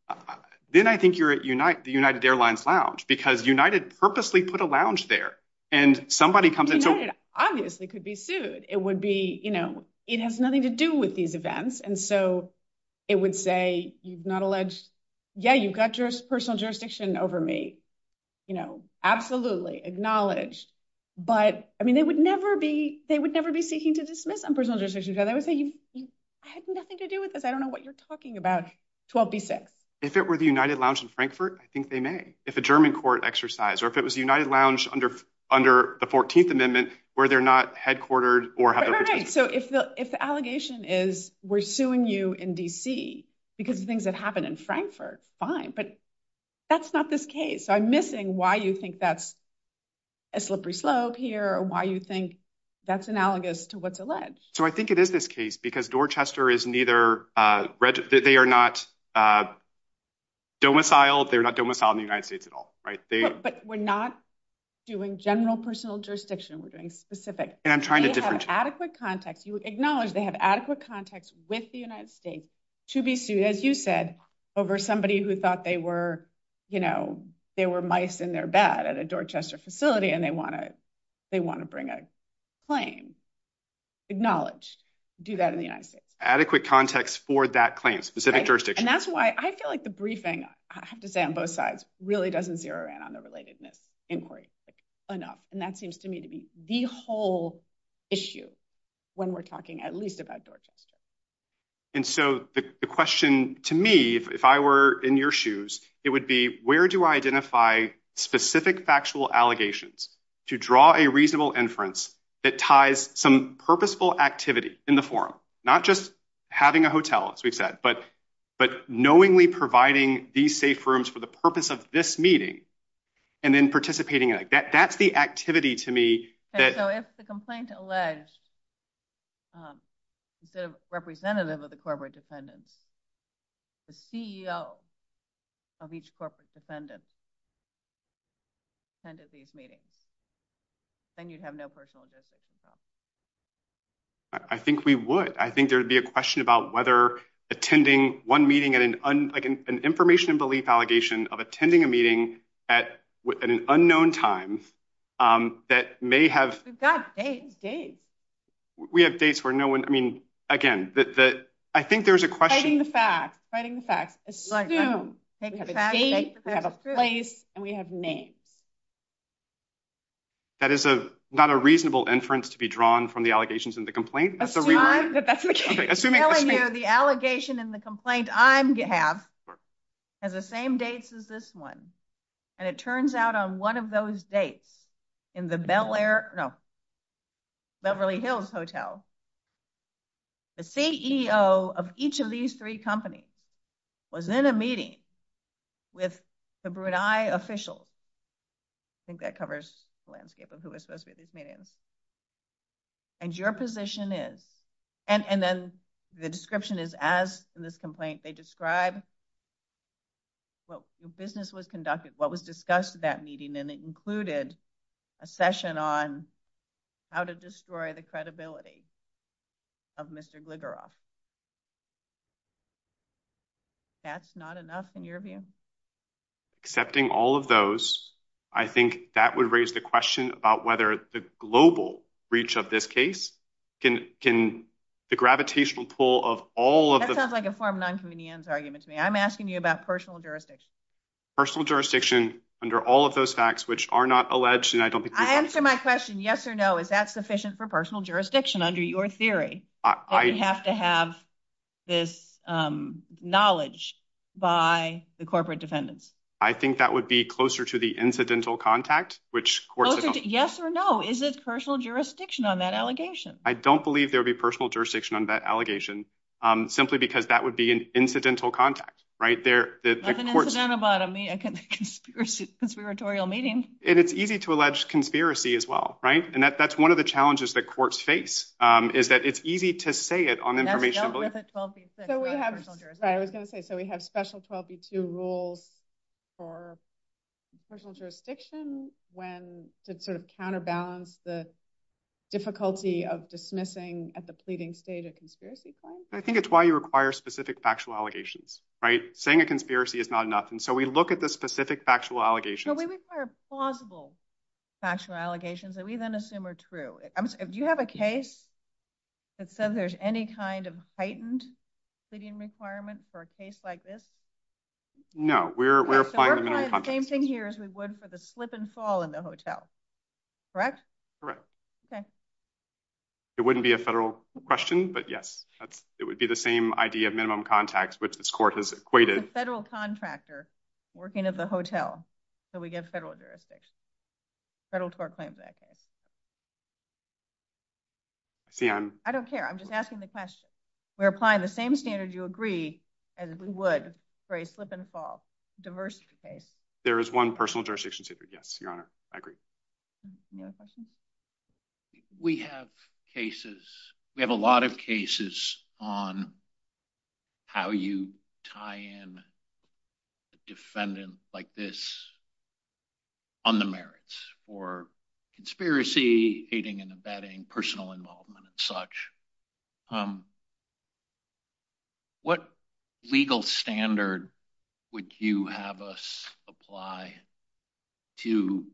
Then I think you're at the United Airlines lounge, because United purposely put a lounge there. And somebody comes in. Obviously could be sued. It would be, you know, it has nothing to do with these events. And so. It would say, you've not alleged. Yeah, you've got your personal jurisdiction over me. You know, absolutely acknowledge. But, I mean, they would never be, they would never be seeking to dismiss. I don't know what you're talking about. If it were the United lounge in Frankfurt, I think they may if a German court exercise, or if it was the United lounge under under the 14th amendment, where they're not headquartered or. So, if the, if the allegation is we're suing you in DC, because the things that happened in Frankfurt fine, but that's not this case. I'm missing why you think that's a slippery slope here or why you think that's analogous to what's alleged. So, I think it is this case because Dorchester is neither. They are not domiciled. They're not domiciled in the United States at all. But we're not doing general personal jurisdiction. We're doing specific and trying to different adequate context. You acknowledge they have adequate context with the United States to be sued. As you said, over somebody who thought they were, you know, they were mice in their bed at a Dorchester facility and they want to, they want to bring a claim. Acknowledged do that in the adequate context for that claim specific jurisdiction. And that's why I feel like the briefing on both sides really doesn't zero in on the related inquiry enough. And that seems to me to be the whole issue when we're talking at least about. And so the question to me, if I were in your shoes, it would be, where do I identify specific factual allegations to draw a reasonable inference? It ties some purposeful activity in the form, not just having a hotel, as we've said, but but knowingly providing these safe rooms for the purpose of this meeting. And then participating in it, that that's the activity to me that the complaint alleged. The representative of the corporate defendant, the CEO of each corporate defendant. And you have no personal. I think we would. I think there'd be a question about whether attending one meeting and an information and belief allegation of attending a meeting at an unknown time. That may have. We have dates for no one. I mean, again, I think there's a question. That is not a reasonable inference to be drawn from the allegations in the complaint. The allegation in the complaint, I have the same dates as this one. And it turns out on one of those dates in the Bel Air. No. Beverly Hills Hotel. The CEO of each of these three companies was in a meeting with the Brunei official. I think that covers the landscape of who is supposed to be this meeting. And your position is. And then the description is, as in this complaint, they describe. Business was conducted, what was discussed that meeting, and it included a session on how to destroy the credibility of Mr. That's not enough in your view. Accepting all of those, I think that would raise the question about whether the global reach of this case can can the gravitational pull of all of the argument to me. I'm asking you about personal jurisdiction. Personal jurisdiction under all of those facts, which are not alleged. And I don't think I answer my question. Yes or no. Is that sufficient for personal jurisdiction under your theory? I have to have this knowledge by the corporate defendants. I think that would be closer to the incidental contact, which yes or no. Is it personal jurisdiction on that allegation? I don't believe there'll be personal jurisdiction on that allegation simply because that would be an incidental contact right there. Conspiratorial meeting, and it's easy to allege conspiracy as well. Right. And that's one of the challenges that courts face is that it's easy to say it on information. So we have special trophy to rule for personal jurisdiction when to sort of counterbalance the difficulty of dismissing at the pleading state of conspiracy. I think it's why you require specific factual allegations, right? Saying a conspiracy is not enough. And so we look at the specific factual allegations. We require plausible factual allegations that we then assume are true. Do you have a case that says there's any kind of heightened pleading requirements for a case like this? No, we're applying the same thing here as we would for the slip and fall in the hotel. Correct? Correct. Okay. It wouldn't be a federal question, but yes, it would be the same idea of minimum contacts, which this court has equated federal contractor working at the hotel. So, we get federal jurisdiction federal claims. I don't care. I'm just asking the question. We're applying the same standard. You agree. We have cases. We have a lot of cases on how you tie in defendant like this on the merits for conspiracy, aiding and abetting personal involvement and such. What legal standard would you have us apply to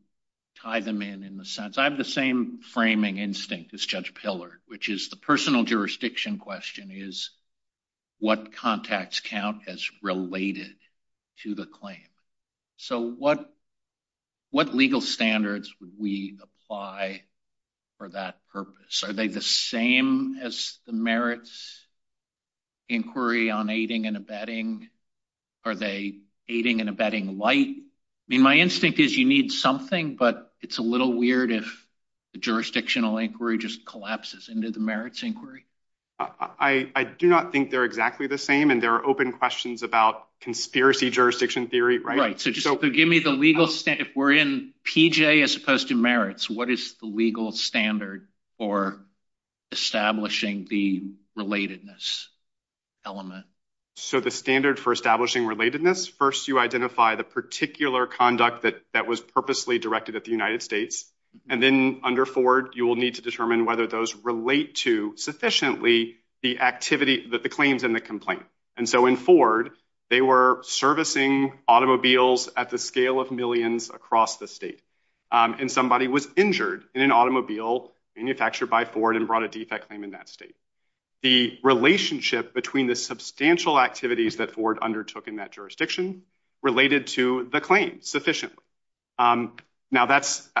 tie them in, in the sense? I have the same framing instinct as Judge Pillard, which is the personal jurisdiction question is what contacts count as related to the claim. So, what legal standards would we apply for that purpose? Are they the same as the merits inquiry on aiding and abetting? Are they aiding and abetting light? I mean, my instinct is you need something, but it's a little weird if the jurisdictional inquiry just collapses into the merits inquiry. I do not think they're exactly the same, and there are open questions about conspiracy jurisdiction theory, right? So, give me the legal standard. If we're in PJ as opposed to merits, what is the legal standard for establishing the relatedness element? So, the standard for establishing relatedness, first you identify the particular conduct that was purposely directed at the United States. And then under Ford, you will need to determine whether those relate to sufficiently the activity that the claims in the complaint. And so, in Ford, they were servicing automobiles at the scale of millions across the state. And somebody was injured in an automobile manufactured by Ford and brought a defect claim in that state. So, the relationship between the substantial activities that Ford undertook in that jurisdiction related to the claim sufficiently. Now,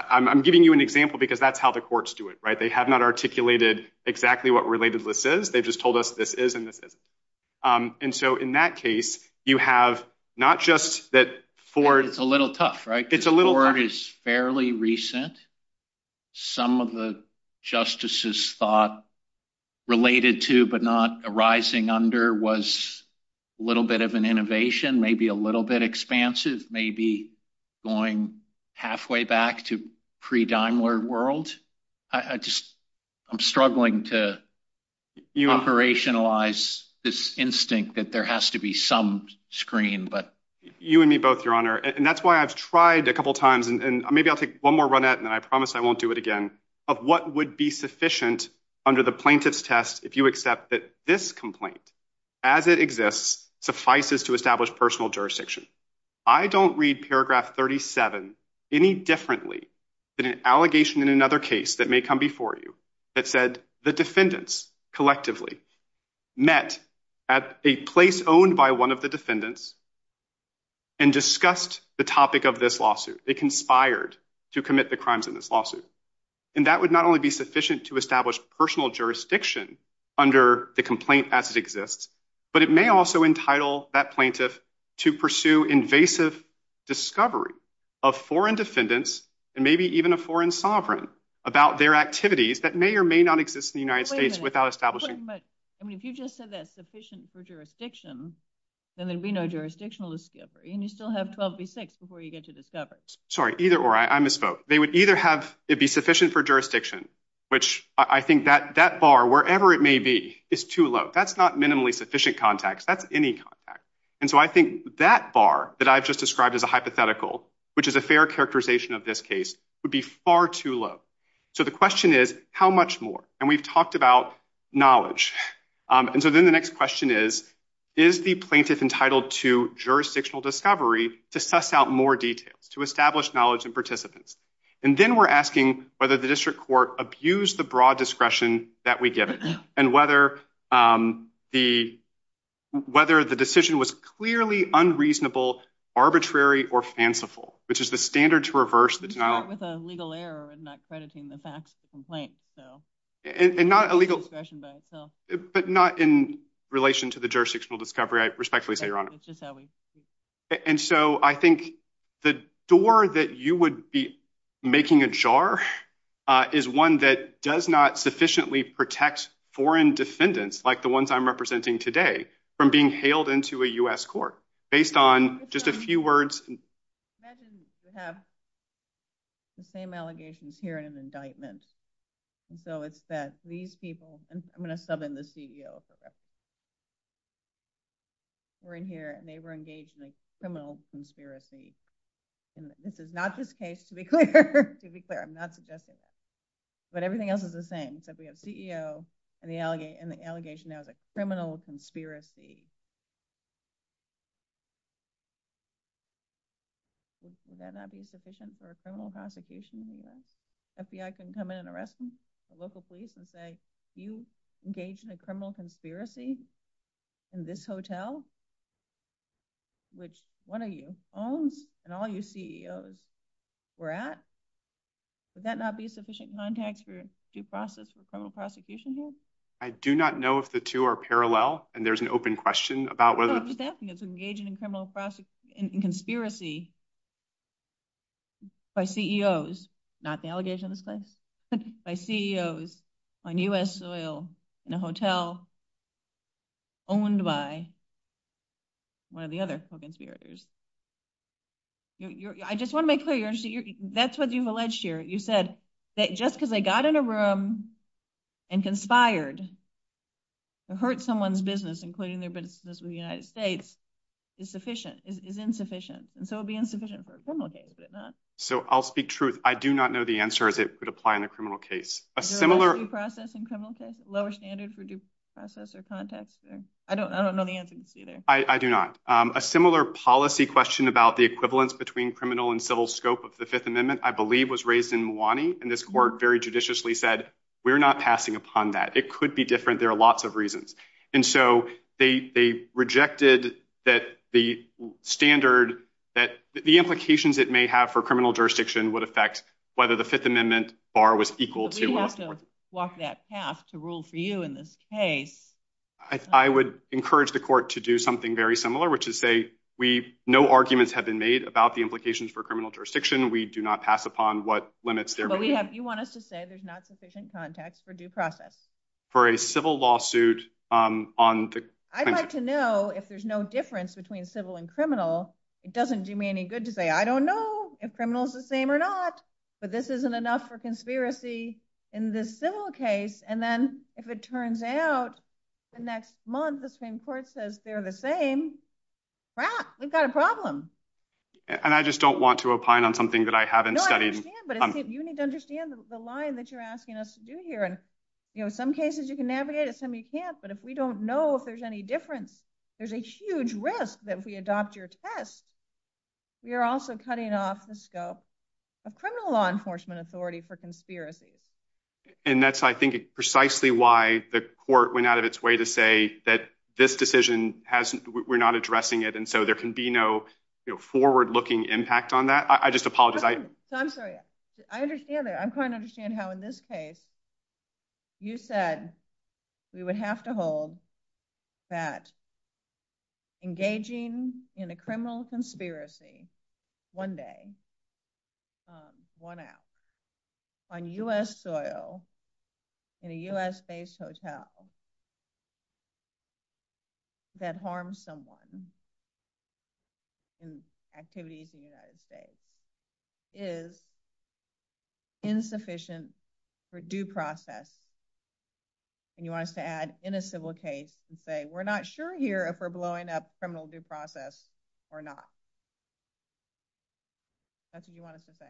I'm giving you an example because that's how the courts do it, right? They have not articulated exactly what relatedness is. They've just told us this is and this is. And so, in that case, you have not just that Ford... It's a little tough, right? Ford is fairly recent. Some of the justices thought related to but not arising under was a little bit of an innovation, maybe a little bit expansive, maybe going halfway back to pre-Daimler world. I'm struggling to operationalize this instinct that there has to be some screen, but... You and me both, Your Honor. And that's why I've tried a couple times, and maybe I'll take one more run at it, and I promise I won't do it again, of what would be sufficient under the plaintiff's test if you accept that this complaint, as it exists, suffices to establish personal jurisdiction. I don't read paragraph 37 any differently than an allegation in another case that may come before you that said the defendants collectively met at a place owned by one of the defendants and discussed the topic of this lawsuit. They conspired to commit the crimes in this lawsuit. And that would not only be sufficient to establish personal jurisdiction under the complaint as it exists, but it may also entitle that plaintiff to pursue invasive discovery of foreign defendants and maybe even a foreign sovereign about their activities that may or may not exist in the United States without establishing... I mean, if you just said that's sufficient for jurisdiction, then there'd be no jurisdictional discovery, and you still have 12 v. 6 before you get to the coverage. Sorry, either or. I misspoke. They would either have it be sufficient for jurisdiction, which I think that that bar, wherever it may be, is too low. That's not minimally sufficient context. That's any context. And so I think that bar that I've just described as a hypothetical, which is a fair characterization of this case, would be far too low. So the question is, how much more? And we've talked about knowledge. And so then the next question is, is the plaintiff entitled to jurisdictional discovery to suss out more detail, to establish knowledge and participants? And then we're asking whether the district court abused the broad discretion that we give it and whether the decision was clearly unreasonable, arbitrary, or fanciful, which is the standard to reverse. We start with a legal error in not crediting the facts of the complaint. But not in relation to the jurisdictional discovery, I respectfully say, Your Honor. And so I think the door that you would be making ajar is one that does not sufficiently protect foreign defendants, like the ones I'm representing today, from being hailed into a U.S. court based on just a few words. I imagine you have the same allegations here in an indictment. And so it's that these people, and I'm going to sub in the CEO for this, were in here and they were engaged in a criminal conspiracy. And this is not this case, to be clear. To be clear, I'm not suggesting that. But everything else is the same. So we have CEO and the allegation of a criminal conspiracy. Would that not be sufficient for a criminal prosecution here? FBI can come in and arrest them, the local police, and say, You engaged in a criminal conspiracy in this hotel, which one of you owns and all you CEOs were at? Would that not be sufficient contact for due process for criminal prosecution here? I do not know if the two are parallel. And there's an open question about whether. What I was asking is engaging in criminal prosecution and conspiracy by CEOs, not the allegation of this case, by CEOs on U.S. soil in a hotel owned by one of the other conspirators. I just want to make clear, that's what you alleged here. You said that just because they got in a room and conspired to hurt someone's business, including their business with the United States, is sufficient, is insufficient. And so it would be insufficient for a criminal case, would it not? So I'll speak truth. I do not know the answer as it would apply in a criminal case. A similar. Due process in criminal cases? Lower standard for due process or contact? I don't know the answer either. I do not. A similar policy question about the equivalence between criminal and civil scope of the Fifth Amendment, I believe, was raised in Moani. And this court very judiciously said, we're not passing upon that. It could be different. There are lots of reasons. And so they rejected that the standard, that the implications it may have for criminal jurisdiction would affect whether the Fifth Amendment bar was equal to. We have to walk that path to rule for you in this case. I would encourage the court to do something very similar, which is say, we, no arguments have been made about the implications for criminal jurisdiction. We do not pass upon what limits. You want us to say there's not sufficient context for due process? For a civil lawsuit on. I'd like to know if there's no difference between civil and criminal. It doesn't do me any good to say, I don't know if criminal is the same or not, but this isn't enough for conspiracy in this civil case. And then if it turns out the next month, the same court says they're the same. We've got a problem. And I just don't want to opine on something that I haven't studied. But you need to understand the line that you're asking us to do here. And, you know, some cases you can navigate it. Some you can't. But if we don't know if there's any difference, there's a huge risk that we adopt your test. We are also cutting off the scope of criminal law enforcement authority for conspiracy. And that's, I think, precisely why the court went out of its way to say that this decision has we're not addressing it. And so there can be no forward looking impact on that. I just apologize. I'm sorry. I understand that. I'm trying to understand how in this case you said we would have to hold that engaging in a criminal conspiracy one day, one hour, on U.S. soil in a U.S. based hotel that harms someone in activities in the United States is insufficient for due process. And you want us to add in a civil case and say we're not sure here if we're blowing up criminal due process or not. That's what you want us to say.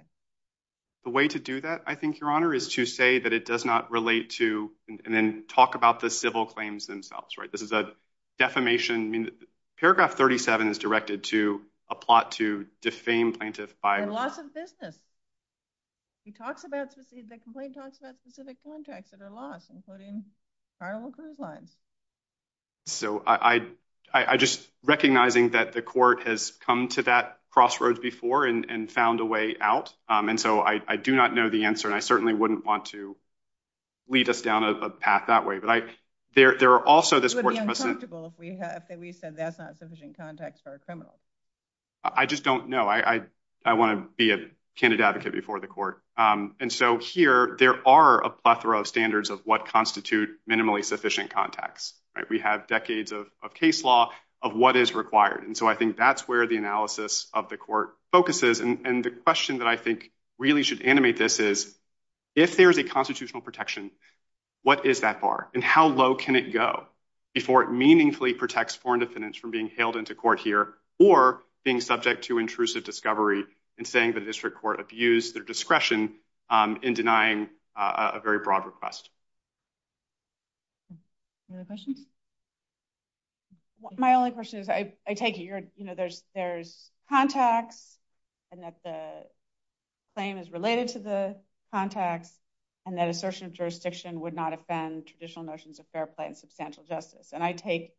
The way to do that, I think, Your Honor, is to say that it does not relate to and then talk about the civil claims themselves. Right. This is a defamation. Paragraph 37 is directed to a plot to defame plaintiffs by loss of business. He talks about the complaint talks about specific contracts that are lost, including our line. So I just recognizing that the court has come to that crossroads before and found a way out. And so I do not know the answer. And I certainly wouldn't want to lead us down a path that way. But I there are also this. We said that's not sufficient context for a criminal. I just don't know. I want to be a candidate before the court. And so here there are a plethora of standards of what constitute minimally sufficient context. We have decades of case law of what is required. And so I think that's where the analysis of the court focuses. And the question that I think really should animate this is if there is a constitutional protection. What is that bar? And how low can it go before it meaningfully protects foreign defendants from being hailed into court here or being subject to intrusive discovery and saying that district court abuse their discretion in denying a very broad request? Any other questions? My only question is I take it. You know, there's there's contact and that the claim is related to the contact and that assertion of jurisdiction would not offend traditional notions of fair play and substantial justice. And I take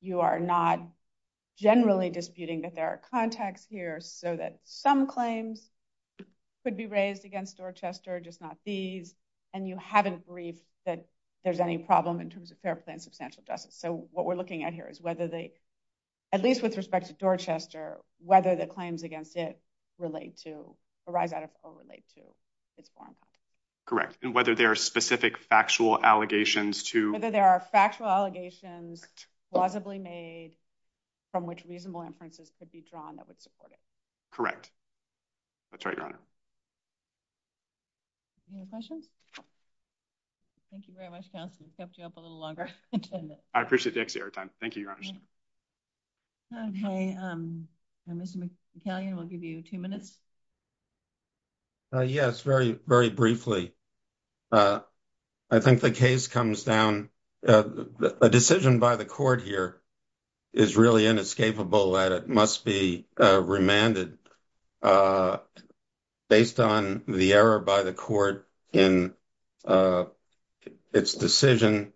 you are not generally disputing that there are contacts here so that some claims could be raised against Dorchester, just not these. And you haven't briefed that there's any problem in terms of fair play and substantial justice. So what we're looking at here is whether they, at least with respect to Dorchester, whether the claims against it relate to arrive at a correlate to its form. Correct. Whether there are specific factual allegations to whether there are factual allegations plausibly made from which reasonable inferences could be drawn that would support it. Correct. That's right. Any questions. Thank you very much. A little longer. I appreciate it. Thank you. Okay. We'll give you two minutes. Yes, very, very briefly. I think the case comes down a decision by the court here is really inescapable. It must be remanded based on the error by the court in its decision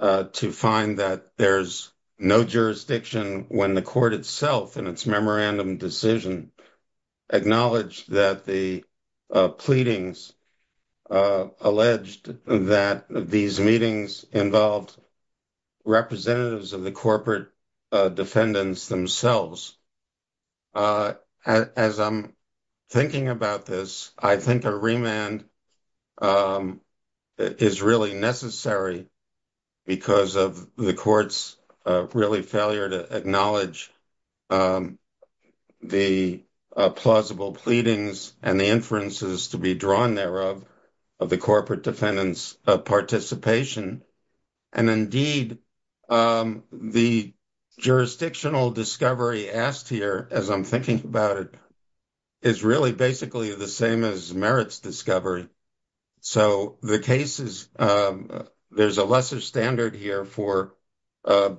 to find that there's no jurisdiction when the court itself and its memorandum decision. Acknowledge that the pleadings alleged that these meetings involved representatives of the corporate defendants themselves. As I'm thinking about this, I think a remand is really necessary because of the court's really failure to acknowledge the plausible pleadings and the inferences to be drawn thereof of the corporate defendants participation. Indeed, the jurisdictional discovery asked here, as I'm thinking about it, is really basically the same as merits discovery. There's a lesser standard here for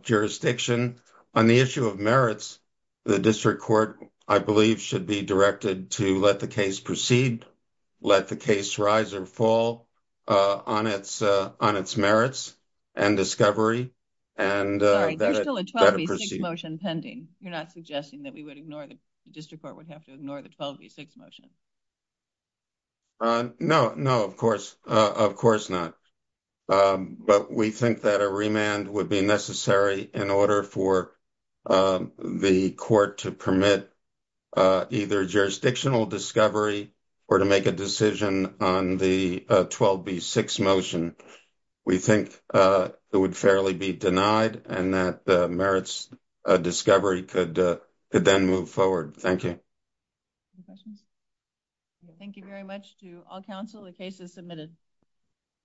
jurisdiction. On the issue of merits, the district court, I believe, should be directed to let the case proceed, let the case rise or fall on its merits and discovery. There's still a 12B6 motion pending. You're not suggesting that the district court would have to ignore the 12B6 motion. No, of course not. But we think that a remand would be necessary in order for the court to permit either jurisdictional discovery or to make a decision on the 12B6 motion. We think it would fairly be denied and that merits discovery could then move forward. Thank you. Thank you very much to all counsel. The case is submitted.